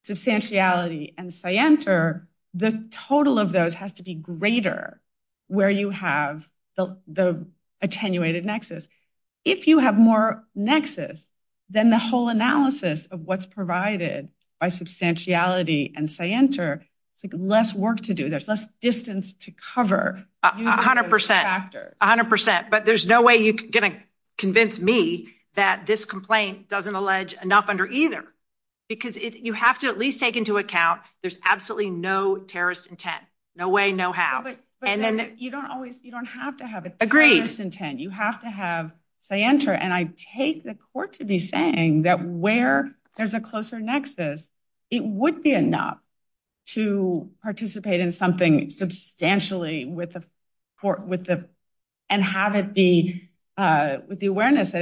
substantiality and say enter the total of those has to be greater where you have the attenuated nexus. If you have more nexus than the whole analysis of what's provided by substantiality and say enter less work to do. And then you have to have less distance to cover kind of percent after a hundred percent. But there's no way you're going to convince me that this complaint doesn't allege enough under either, because you have to at least take into account. There's absolutely no terrorist intent, no way, no habit. And then you don't always you don't have to have a great intent. You have to have say enter and I take the court to be saying that where there's a closer nexus, it would be enough to participate in something substantially with the court with the and have it be with the awareness.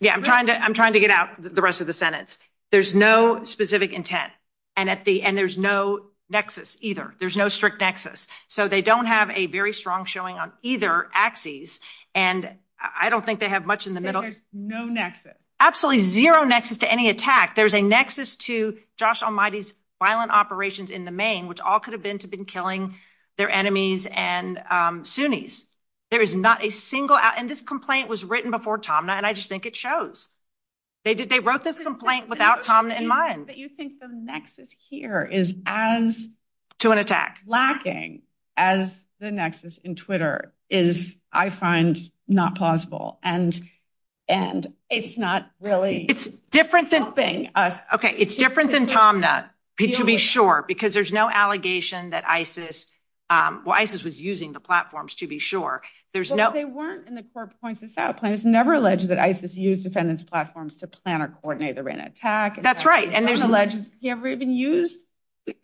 Yeah, I'm trying to I'm trying to get out the rest of the Senate. There's no specific intent and at the end, there's no nexus either. There's no strict nexus. So they don't have a very strong showing on either axis. And I don't think they have much in the middle. There's no nexus. Absolutely zero nexus to any attack. There's a nexus to Josh Almighty's violent operations in the main, which all could have been to been killing their enemies and Sunnis. There is not a single and this complaint was written before Tom and I just think it shows they did. They wrote this complaint without Tom in mind that you think the nexus here is as to an attack lacking as the nexus in Twitter is I find not possible. And, and it's not really it's different than thing. Okay. It's different than Tom that to be sure because there's no allegation that Isis was using the platforms to be sure. There's no they weren't in the court points out plans never alleged that Isis use defendants platforms to plan or coordinate the rain attack. That's right. And there's a legend. You ever even use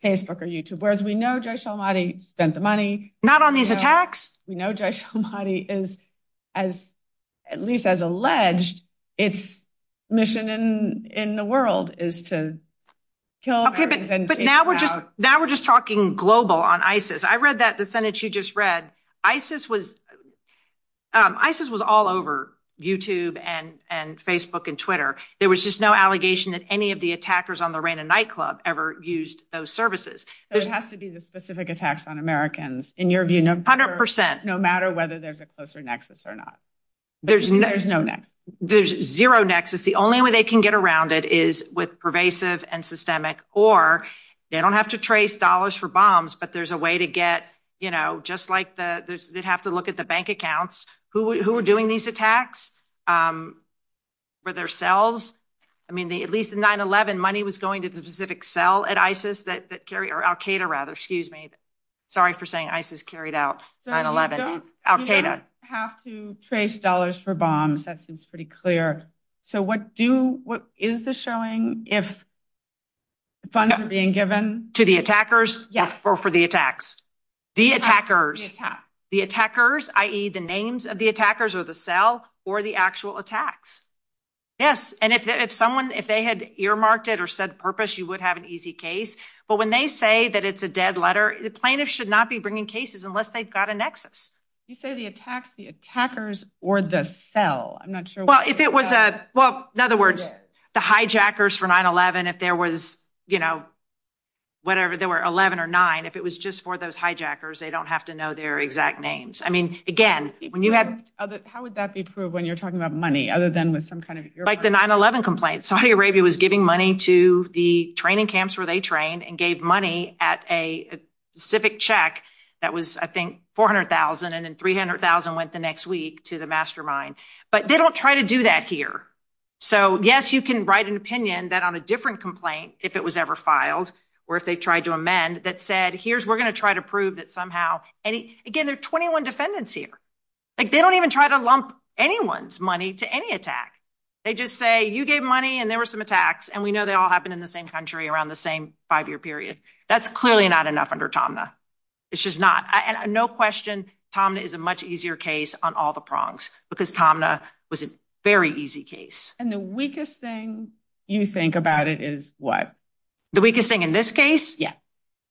Facebook or YouTube, whereas we know Josh Almighty spent the money not on these attacks. You know, Josh Almighty is as at least as alleged. It's mission in the world is to kill. But now we're just now we're just talking global on Isis. I read that the sentence you just read Isis was Isis was all over YouTube and and Facebook and Twitter. There was just no allegation that any of the attackers on the rain and nightclub ever used those services. It has to be the specific attacks on Americans in your view, no matter whether they're closer nexus or not. There's no, no, no, there's zero nexus. The only way they can get around it is with pervasive and systemic or they don't have to trace dollars for bombs. But there's a way to get, you know, just like the, they'd have to look at the bank accounts who were doing these attacks. Were there cells? I mean, the at least 9-11 money was going to the specific cell at Isis that carry or Al-Qaeda rather, excuse me. Sorry for saying Isis carried out 9-11 Al-Qaeda have to trace dollars for bombs. That seems pretty clear. So what do what is the showing if funds are being given to the attackers? Yes, or for the attacks, the attackers, the attackers, i.e. the names of the attackers or the cell or the actual attacks. Yes. And if someone if they had earmarked it or said purpose, you would have an easy case. But when they say that it's a dead letter, the plaintiff should not be bringing cases unless they've got a nexus. You say the attacks, the attackers or the cell. I'm not sure. Well, if it was a well, in other words, the hijackers for 9-11, if there was, you know, whatever, there were 11 or nine. If it was just for those hijackers, they don't have to know their exact names. I mean, again, when you have. How would that be proved when you're talking about money other than with some kind of like the 9-11 complaints? Saudi Arabia was giving money to the training camps where they trained and gave money at a civic check. That was, I think, 400,000 and then 300,000 went the next week to the mastermind. But they don't try to do that here. So, yes, you can write an opinion that on a different complaint, if it was ever filed or if they tried to amend that said, here's we're going to try to prove that somehow. And again, there are 21 defendants here. They don't even try to lump anyone's money to any attack. They just say you gave money and there were some attacks and we know they all happened in the same country around the same five year period. That's clearly not enough under Tomna. It's just not no question. Tomna is a much easier case on all the prongs because Tomna was a very easy case. And the weakest thing you think about it is what? The weakest thing in this case? Yeah.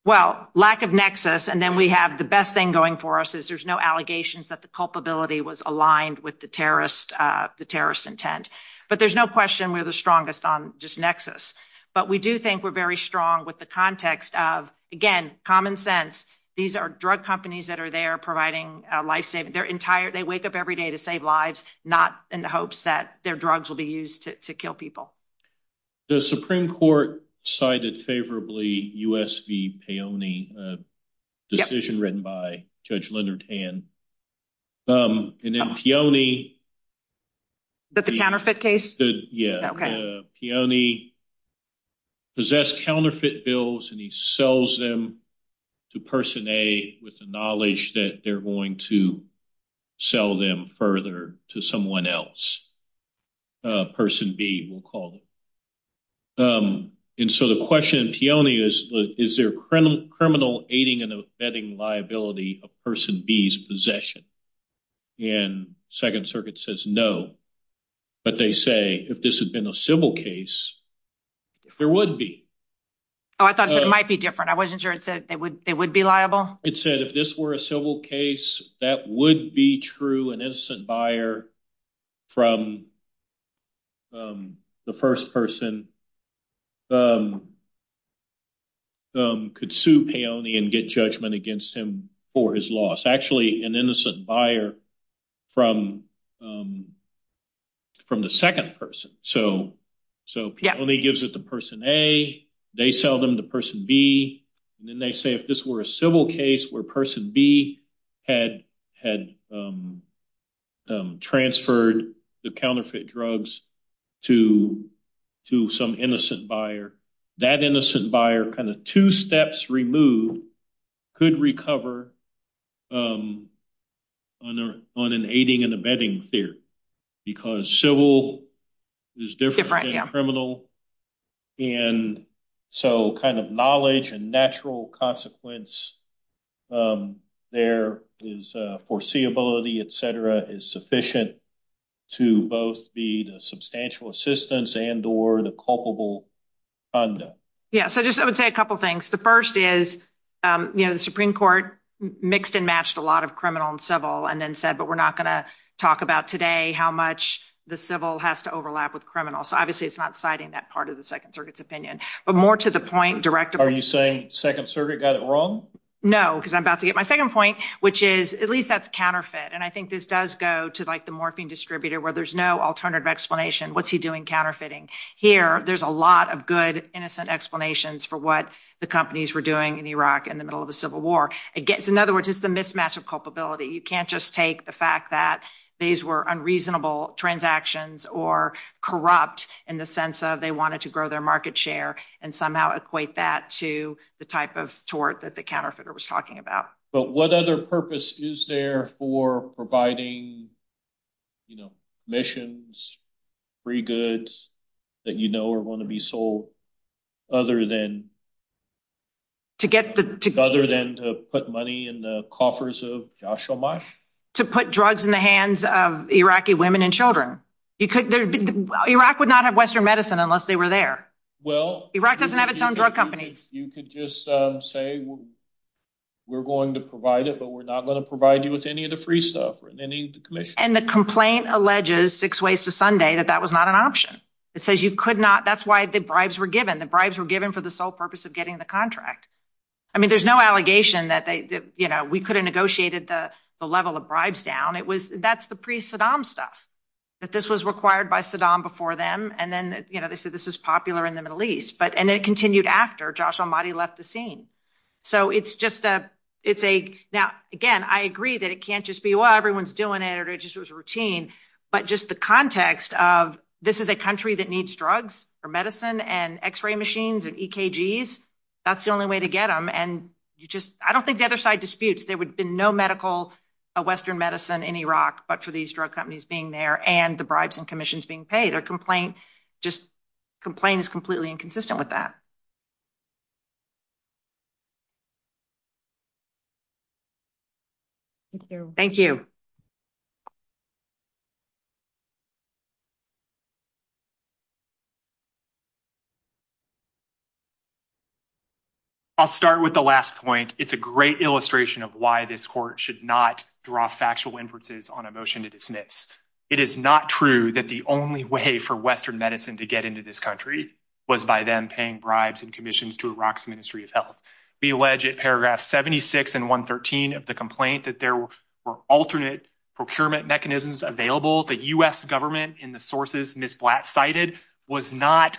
Well, lack of nexus. And then we have the best thing going for us is there's no allegations that the culpability was aligned with the terrorist, the terrorist intent. But there's no question we're the strongest on just nexus. But we do think we're very strong with the context of, again, common sense. These are drug companies that are there providing life saving their entire they wake up every day to save lives, not in the hopes that their drugs will be used to kill people. The Supreme Court cited favorably U.S. decision written by Judge Leonard and. And then the only. But the counterfeit case. Yeah. The only possessed counterfeit bills and he sells them to person a with the knowledge that they're going to sell them further to someone else. Person B will call. And so the question is, is there criminal criminal aiding and abetting liability of person B's possession? And Second Circuit says no, but they say if this had been a civil case, there would be. Oh, I thought it might be different. I wasn't sure it said it would it would be liable. It said if this were a civil case, that would be true. An innocent buyer from the first person. Could sue pay only and get judgment against him for his loss. Actually, an innocent buyer from from the second person. So so he only gives it to person a they sell them to person B. And then they say if this were a civil case where person B had had transferred the counterfeit drugs to to some innocent buyer, that innocent buyer kind of two steps removed could recover. On an aiding and abetting fear, because civil is different criminal. And so kind of knowledge and natural consequence there is foreseeability, et cetera, is sufficient to both be the substantial assistance and or the culpable. Yeah, so just I would say a couple of things. The first is, you know, the Supreme Court mixed and matched a lot of criminal and civil and then said, but we're not going to talk about today how much the civil has to overlap with criminal. So, obviously, it's not citing that part of the Second Circuit's opinion, but more to the point direct. Are you saying Second Circuit got it wrong? No, because I'm about to get my second point, which is at least that's counterfeit. And I think this does go to the morphing distributor where there's no alternative explanation. What's he doing counterfeiting? Here, there's a lot of good, innocent explanations for what the companies were doing in Iraq in the middle of the Civil War. It gets, in other words, it's a mismatch of culpability. You can't just take the fact that these were unreasonable transactions or corrupt in the sense that they wanted to grow their market share and somehow equate that to the type of tort that the counterfeiter was talking about. But what other purpose is there for providing, you know, missions, free goods that you know are going to be sold other than to put money in the coffers of Jashomash? To put drugs in the hands of Iraqi women and children. Iraq would not have Western medicine unless they were there. Iraq doesn't have its own drug company. You could just say we're going to provide it, but we're not going to provide you with any of the free stuff. And the complaint alleges Six Ways to Sunday that that was not an option. It says you could not, that's why the bribes were given. The bribes were given for the sole purpose of getting the contract. I mean, there's no allegation that we could have negotiated the level of bribes down. That's the pre-Saddam stuff. But this was required by Saddam before them. And then, you know, they said this is popular in the Middle East, but and it continued after Jashomash left the scene. So it's just a, it's a, now, again, I agree that it can't just be, well, everyone's doing it or it just was routine. But just the context of this is a country that needs drugs or medicine and x-ray machines and EKGs. That's the only way to get them. And you just I don't think the other side disputes. There would be no medical Western medicine in Iraq, but for these drug companies being there and the bribes and commissions being paid a complaint, just complain is completely inconsistent with that. Thank you. I'll start with the last point. It's a great illustration of why this court should not draw factual inferences on a motion to dismiss. It is not true that the only way for Western medicine to get into this country was by them paying bribes and commissions to Iraq's Ministry of Health. We allege at paragraph 76 and 113 of the complaint that there were alternate procurement mechanisms available. The U.S. government in the sources Ms. Black cited was not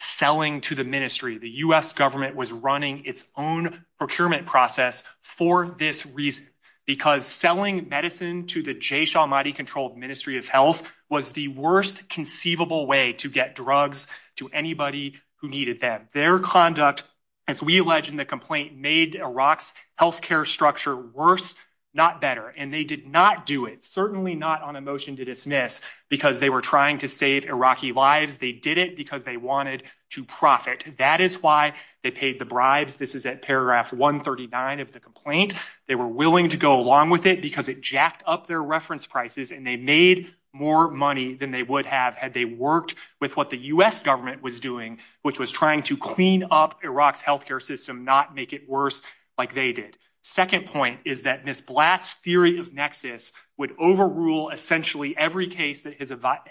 selling to the ministry. The U.S. government was running its own procurement process for this reason, because selling medicine to the Jashomash-controlled Ministry of Health was the worst conceivable way to get drugs to anybody who needed them. Their conduct, as we allege in the complaint, made Iraq's health care structure worse, not better. And they did not do it, certainly not on a motion to dismiss, because they were trying to save Iraqi lives. They did it because they wanted to profit. That is why they paid the bribes. This is at paragraph 139 of the complaint. They were willing to go along with it because it jacked up their reference prices and they made more money than they would have had they worked with what the U.S. government was doing, which was trying to clean up Iraq's health care system, not make it worse like they did. Second point is that Ms. Black's theory of nexus would overrule essentially every case that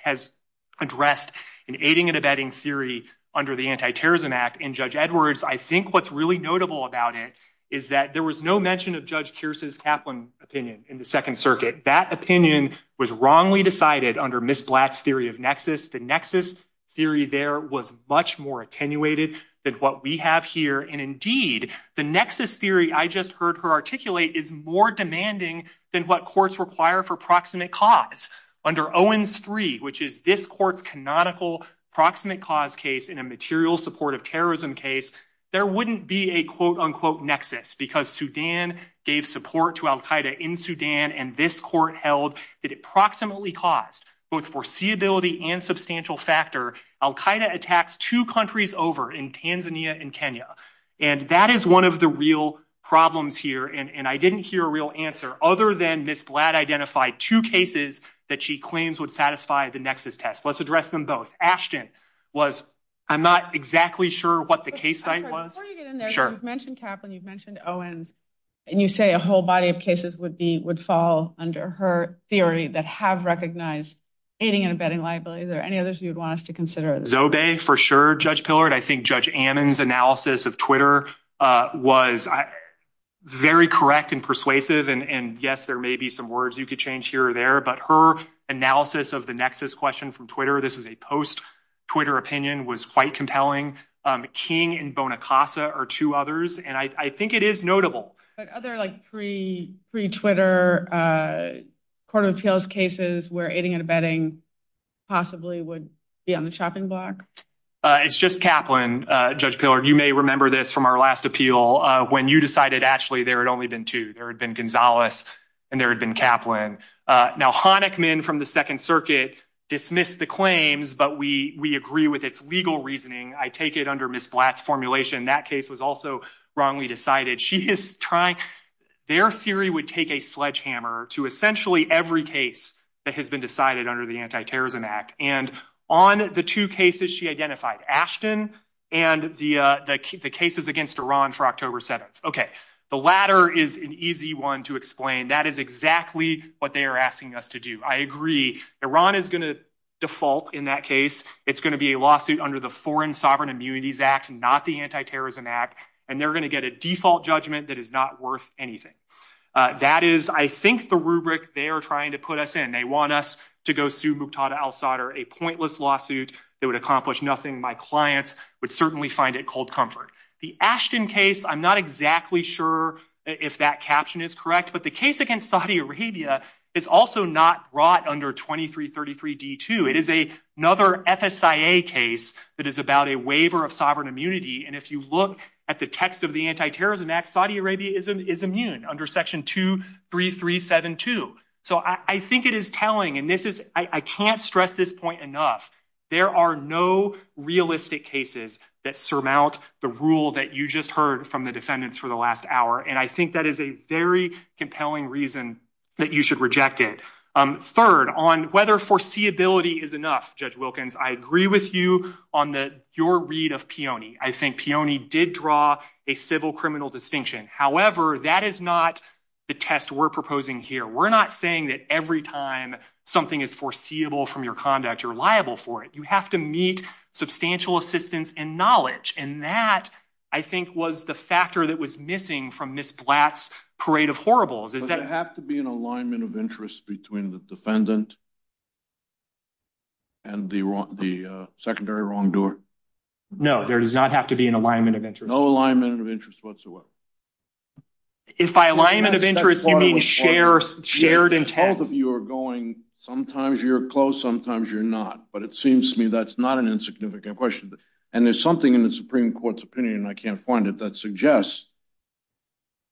has addressed in aiding and abetting theory under the Anti-Terrorism Act. And Judge Edwards, I think what's really notable about it is that there was no mention of Judge Pierce's Kaplan opinion in the Second Circuit. That opinion was wrongly decided under Ms. Black's theory of nexus. The nexus theory there was much more attenuated than what we have here. And indeed, the nexus theory I just heard her articulate is more demanding than what courts require for proximate cause. Under Owens III, which is this court's canonical proximate cause case in a material support of terrorism case, there wouldn't be a quote unquote nexus because Sudan gave support to al-Qaeda in Sudan and this court held that it proximately caused both foreseeability and substantial factor. Al-Qaeda attacks two countries over in Tanzania and Kenya. And that is one of the real problems here. And I didn't hear a real answer other than Ms. Black identified two cases that she claims would satisfy the nexus test. Let's address them both. Ashton, I'm not exactly sure what the case site was. Before you get in there, you've mentioned Kaplan, you've mentioned Owens, and you say a whole body of cases would fall under her theory that have recognized aiding and abetting liability. Are there any others you'd want us to consider? Zobay, for sure, Judge Pillard. I think Judge Ammon's analysis of Twitter was very correct and persuasive. And, yes, there may be some words you could change here or there. But her analysis of the nexus question from Twitter, this is a post-Twitter opinion, was quite compelling. King and Bonacasa are two others. And I think it is notable. Are there like three Twitter court of appeals cases where aiding and abetting possibly would be on the chopping block? It's just Kaplan, Judge Pillard. You may remember this from our last appeal when you decided actually there had only been two. There had been Gonzalez and there had been Kaplan. Now, Honickman from the Second Circuit dismissed the claims, but we agree with its legal reasoning. I take it under Ms. Black's formulation that case was also wrongly decided. Their theory would take a sledgehammer to essentially every case that has been decided under the Anti-Terrorism Act. And on the two cases she identified, Ashton and the cases against Iran for October 7th. Okay, the latter is an easy one to explain. That is exactly what they are asking us to do. I agree. Iran is going to default in that case. It's going to be a lawsuit under the Foreign Sovereign Immunities Act, not the Anti-Terrorism Act. And they're going to get a default judgment that is not worth anything. That is, I think, the rubric they are trying to put us in. They want us to go sue Muqtada al-Sadr, a pointless lawsuit that would accomplish nothing. My clients would certainly find it cold comfort. The Ashton case, I'm not exactly sure if that caption is correct. But the case against Saudi Arabia is also not brought under 2333 D2. It is another FSIA case that is about a waiver of sovereign immunity. And if you look at the text of the Anti-Terrorism Act, Saudi Arabia is immune under Section 23372. So I think it is telling. And I can't stress this point enough. There are no realistic cases that surmount the rule that you just heard from the defendants for the last hour. And I think that is a very compelling reason that you should reject it. Third, on whether foreseeability is enough, Judge Wilkins, I agree with you on your read of Peone. I think Peone did draw a civil criminal distinction. However, that is not the test we're proposing here. We're not saying that every time something is foreseeable from your conduct, you're liable for it. You have to meet substantial assistance and knowledge. And that, I think, was the factor that was missing from Ms. Blatt's parade of horribles. Does it have to be an alignment of interest between the defendant and the secondary wrongdoer? No, there does not have to be an alignment of interest. No alignment of interest whatsoever? If by alignment of interest, you mean shared intent? Both of you are going, sometimes you're close, sometimes you're not. But it seems to me that's not an insignificant question. And there's something in the Supreme Court's opinion, and I can't find it, that suggests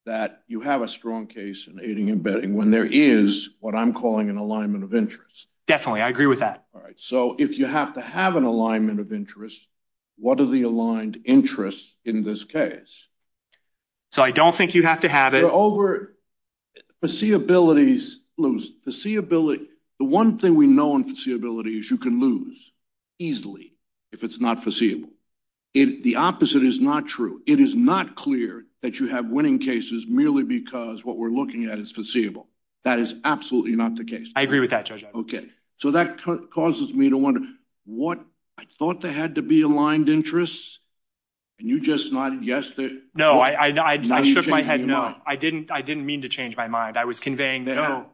that you have a strong case in aiding and abetting when there is what I'm calling an alignment of interest. Definitely. I agree with that. All right. So if you have to have an alignment of interest, what are the aligned interests in this case? So I don't think you have to have it. The one thing we know in foreseeability is you can lose easily if it's not foreseeable. The opposite is not true. It is not clear that you have winning cases merely because what we're looking at is foreseeable. That is absolutely not the case. I agree with that, Judge. Okay. So that causes me to wonder. I thought there had to be aligned interests, and you just not guessed it. No, I shook my head no. I didn't mean to change my mind. I was conveying no.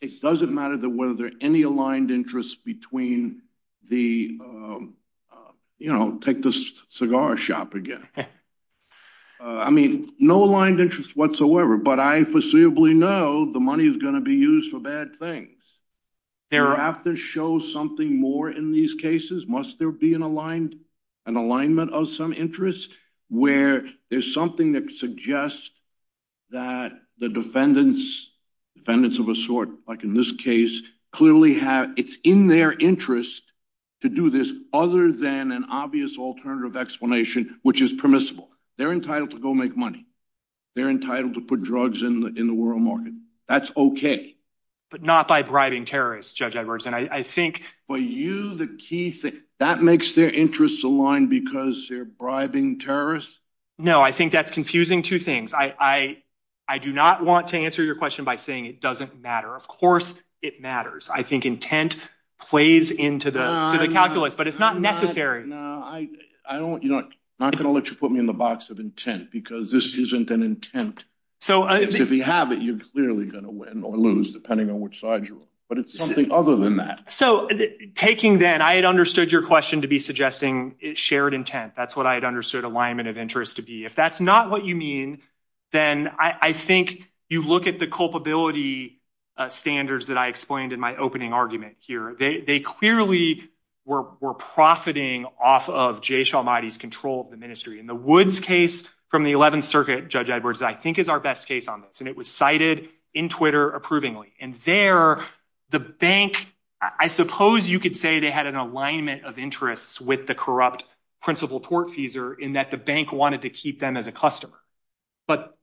It doesn't matter whether there are any aligned interests between the, you know, take this cigar shop again. I mean, no aligned interests whatsoever, but I foreseeably know the money is going to be used for bad things. Hereafter, show something more in these cases. Must there be an alignment of some interest where there's something that suggests that the defendants, defendants of a sort, like in this case, it's in their interest to do this other than an obvious alternative explanation, which is permissible. They're entitled to go make money. They're entitled to put drugs in the world market. That's okay. But not by bribing terrorists, Judge Everson. I think for you the key thing, that makes their interests aligned because they're bribing terrorists? No, I think that's confusing two things. I do not want to answer your question by saying it doesn't matter. Of course it matters. I think intent plays into the calculus, but it's not necessary. No, I'm not going to let you put me in the box of intent because this isn't an intent. If you have it, you're clearly going to win or lose depending on which side you're on. But it's something other than that. So taking that, I had understood your question to be suggesting shared intent. That's what I had understood alignment of interest to be. If that's not what you mean, then I think you look at the culpability standards that I explained in my opening argument here. They clearly were profiting off of Jay Shalmati's control of the ministry. And the Woods case from the 11th Circuit, Judge Edwards, I think is our best case on this. And it was cited in Twitter approvingly. And there, the bank, I suppose you could say they had an alignment of interests with the corrupt principal tortfeasor in that the bank wanted to keep them as a customer. But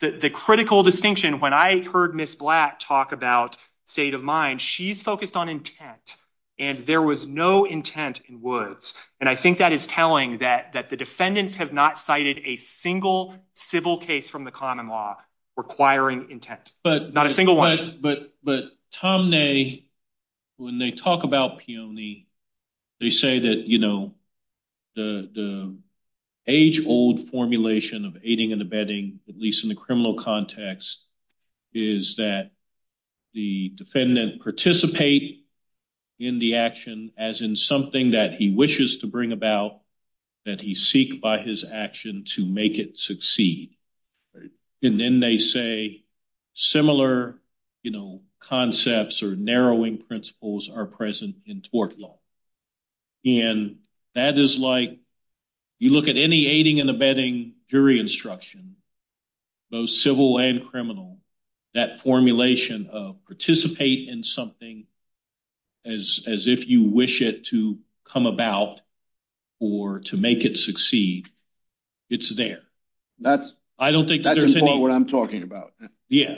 the critical distinction, when I heard Ms. Blatt talk about state of mind, she's focused on intent. And there was no intent in Woods. And I think that is telling that the defendants have not cited a single civil case from the common law requiring intent. Not a single one. But Tom, when they talk about peony, they say that the age-old formulation of aiding and abetting, at least in the criminal context, is that the defendant participate in the action as in something that he wishes to bring about, that he seek by his action to make it succeed. And then they say similar concepts or narrowing principles are present in tort law. And that is like, you look at any aiding and abetting jury instruction, both civil and criminal, that formulation of participate in something as if you wish it to come about or to make it succeed, it's there. That's important what I'm talking about.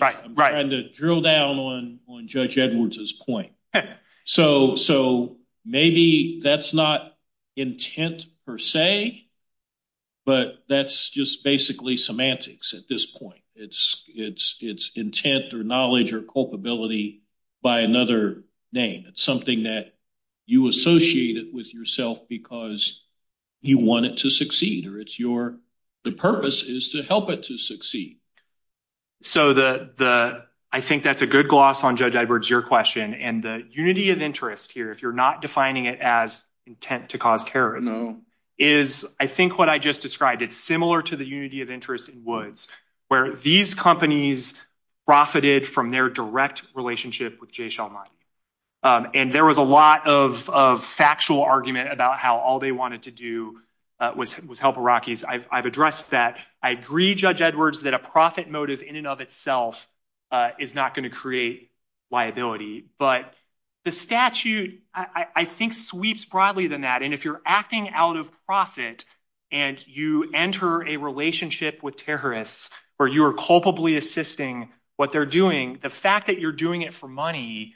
I'm trying to drill down on Judge Edwards' point. So maybe that's not intent per se, but that's just basically semantics at this point. It's intent or knowledge or culpability by another name. It's something that you associated with yourself because you want it to succeed or the purpose is to help it to succeed. So I think that's a good gloss on Judge Edwards' question. And the unity of interest here, if you're not defining it as intent to cause terrorism, is I think what I just described. It's similar to the unity of interest in Woods, where these companies profited from their direct relationship with Jay Shalmani. And there was a lot of factual argument about how all they wanted to do was help Iraqis. I've addressed that. I agree, Judge Edwards, that a profit motive in and of itself is not going to create liability. But the statute, I think, sweeps broadly than that. And if you're acting out of profit and you enter a relationship with terrorists where you are culpably assisting what they're doing, the fact that you're doing it for money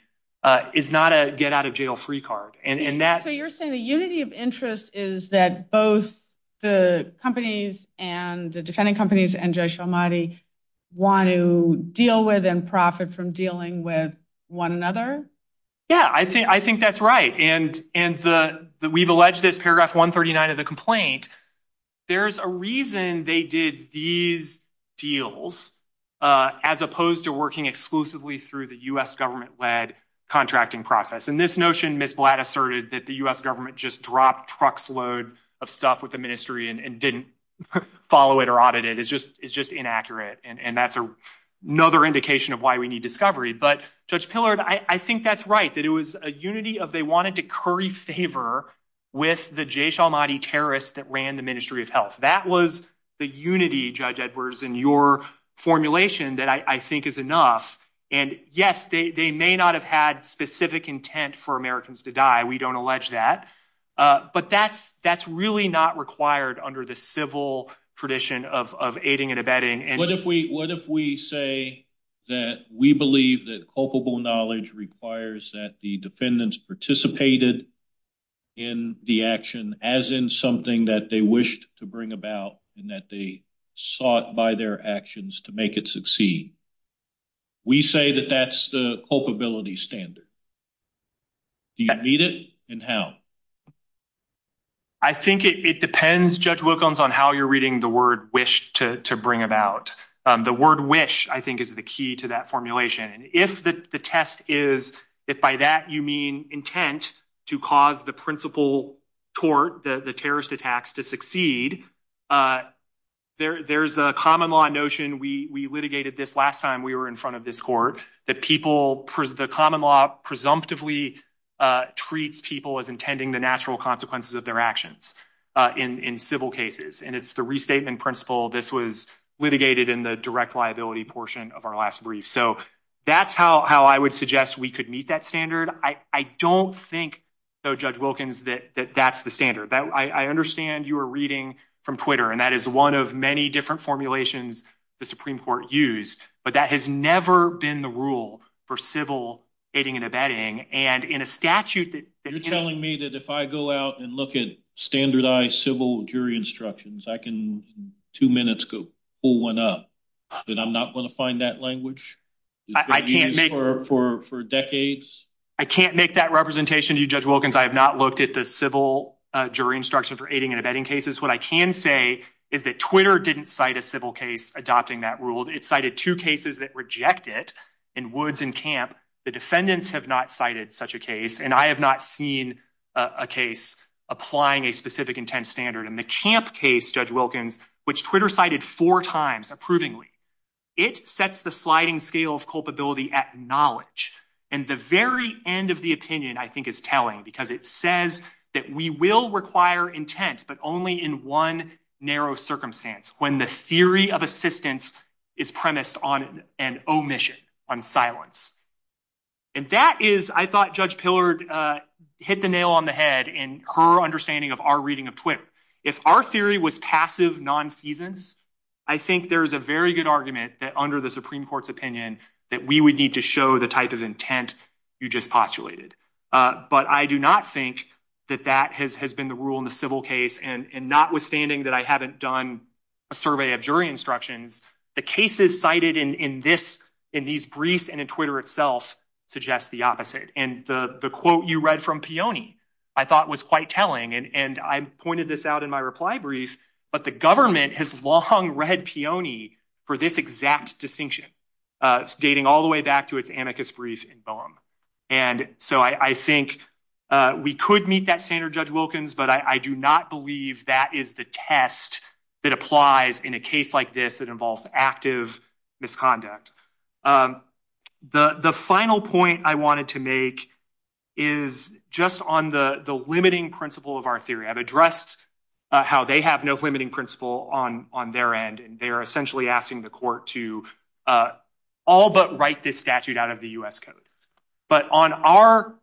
is not a get-out-of-jail-free card. So you're saying the unity of interest is that both the companies and the defendant companies and Jay Shalmani want to deal with and profit from dealing with one another? Yeah, I think that's right. And we've alleged this, paragraph 139 of the complaint. There's a reason they did these deals as opposed to working exclusively through the U.S. government-led contracting process. And this notion, Ms. Blatt asserted, that the U.S. government just dropped truckloads of stuff with the ministry and didn't follow it or audit it is just inaccurate. And that's another indication of why we need discovery. But, Judge Pillard, I think that's right, that it was a unity of they wanted to curry favor with the Jay Shalmani terrorists that ran the Ministry of Health. That was the unity, Judge Edwards, in your formulation that I think is enough. And, yes, they may not have had specific intent for Americans to die. We don't allege that. But that's really not required under the civil tradition of aiding and abetting. What if we say that we believe that culpable knowledge requires that the defendants participated in the action as in something that they wished to bring about and that they sought by their actions to make it succeed? We say that that's the culpability standard. Do you need it, and how? I think it depends, Judge Wilkins, on how you're reading the word wish to bring about. The word wish, I think, is the key to that formulation. And if the test is, if by that you mean intent to cause the principal tort, the terrorist attacks, to succeed, there's a common law notion. We litigated this last time we were in front of this court, that the common law presumptively treats people as intending the natural consequences of their actions in civil cases. And it's the restatement principle that was litigated in the direct liability portion of our last brief. So that's how I would suggest we could meet that standard. I don't think, though, Judge Wilkins, that that's the standard. I understand you were reading from Twitter, and that is one of many different formulations the Supreme Court used. But that has never been the rule for civil aiding and abetting. You're telling me that if I go out and look at standardized civil jury instructions, I can in two minutes pull one up, that I'm not going to find that language? I can't make that representation to you, Judge Wilkins. I have not looked at the civil jury instruction for aiding and abetting cases. What I can say is that Twitter didn't cite a civil case adopting that rule. It cited two cases that reject it in Woods and Camp. The defendants have not cited such a case, and I have not seen a case applying a specific intent standard. And the Camp case, Judge Wilkins, which Twitter cited four times approvingly, it sets the sliding scale of culpability at knowledge. And the very end of the opinion, I think, is telling, because it says that we will require intent, but only in one narrow circumstance, when the theory of assistance is premised on an omission, on silence. And that is, I thought Judge Pillard hit the nail on the head in her understanding of our reading of Twitter. If our theory was passive non-seasons, I think there's a very good argument that under the Supreme Court's opinion that we would need to show the type of intent you just postulated. But I do not think that that has been the rule in the civil case, and notwithstanding that I haven't done a survey of jury instructions, the cases cited in these briefs and in Twitter itself suggest the opposite. And the quote you read from Peone, I thought was quite telling, and I pointed this out in my reply brief, but the government has long read Peone for this exact distinction, dating all the way back to its amicus brief in Bellum. And so I think we could meet that standard, Judge Wilkins, but I do not believe that is the test that applies in a case like this that involves active misconduct. The final point I wanted to make is just on the limiting principle of our theory. I've addressed how they have no limiting principle on their end, and they are essentially asking the court to all but write this statute out of the U.S. Code. But on our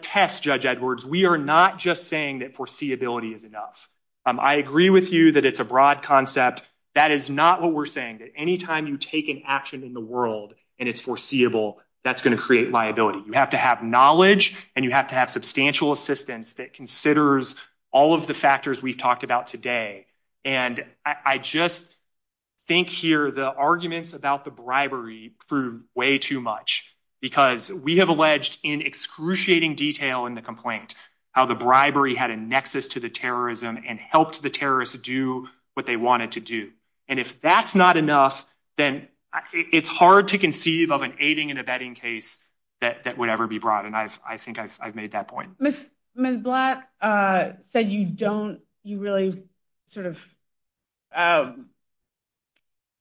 test, Judge Edwards, we are not just saying that foreseeability is enough. I agree with you that it's a broad concept. But that is not what we're saying, that any time you take an action in the world and it's foreseeable, that's going to create liability. You have to have knowledge, and you have to have substantial assistance that considers all of the factors we've talked about today. And I just think here the arguments about the bribery prove way too much, because we have alleged in excruciating detail in the complaint how the bribery had a nexus to the terrorism and helped the terrorists do what they wanted to do. And if that's not enough, then it's hard to conceive of an aiding and abetting case that would ever be brought, and I think I've made that point. Ms. Blatt said you really sort of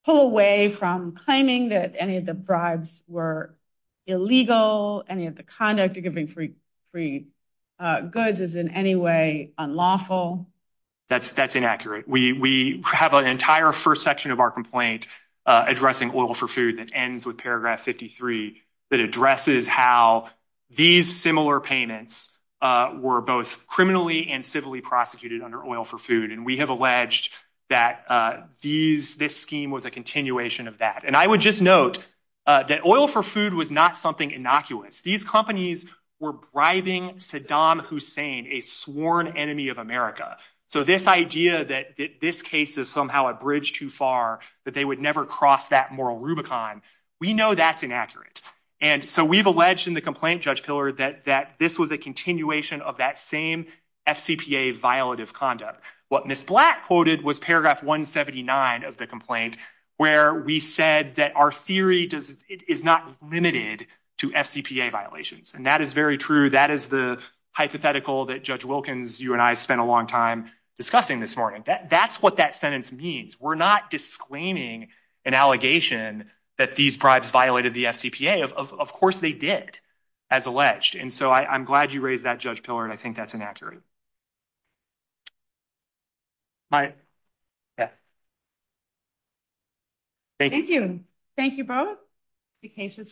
pull away from claiming that any of the bribes were illegal, any of the conduct of giving free goods is in any way unlawful. That's inaccurate. We have an entire first section of our complaint addressing oil for food that ends with paragraph 53 that addresses how these similar payments were both criminally and civilly prosecuted under oil for food. And we have alleged that this scheme was a continuation of that. And I would just note that oil for food was not something innocuous. These companies were bribing Saddam Hussein, a sworn enemy of America. So this idea that this case is somehow a bridge too far, that they would never cross that moral rubicon, we know that's inaccurate. And so we've alleged in the complaint, Judge Pillard, that this was a continuation of that same FCPA violative conduct. What Ms. Blatt quoted was paragraph 179 of the complaint where we said that our theory is not limited to FCPA violations. And that is very true. That is the hypothetical that Judge Wilkins, you and I spent a long time discussing this morning. That's what that sentence means. We're not disclaiming an allegation that these bribes violated the FCPA. Of course they did, as alleged. And so I'm glad you raised that, Judge Pillard. I think that's inaccurate. All right. Yes. Thank you. Thank you both. The case is submitted.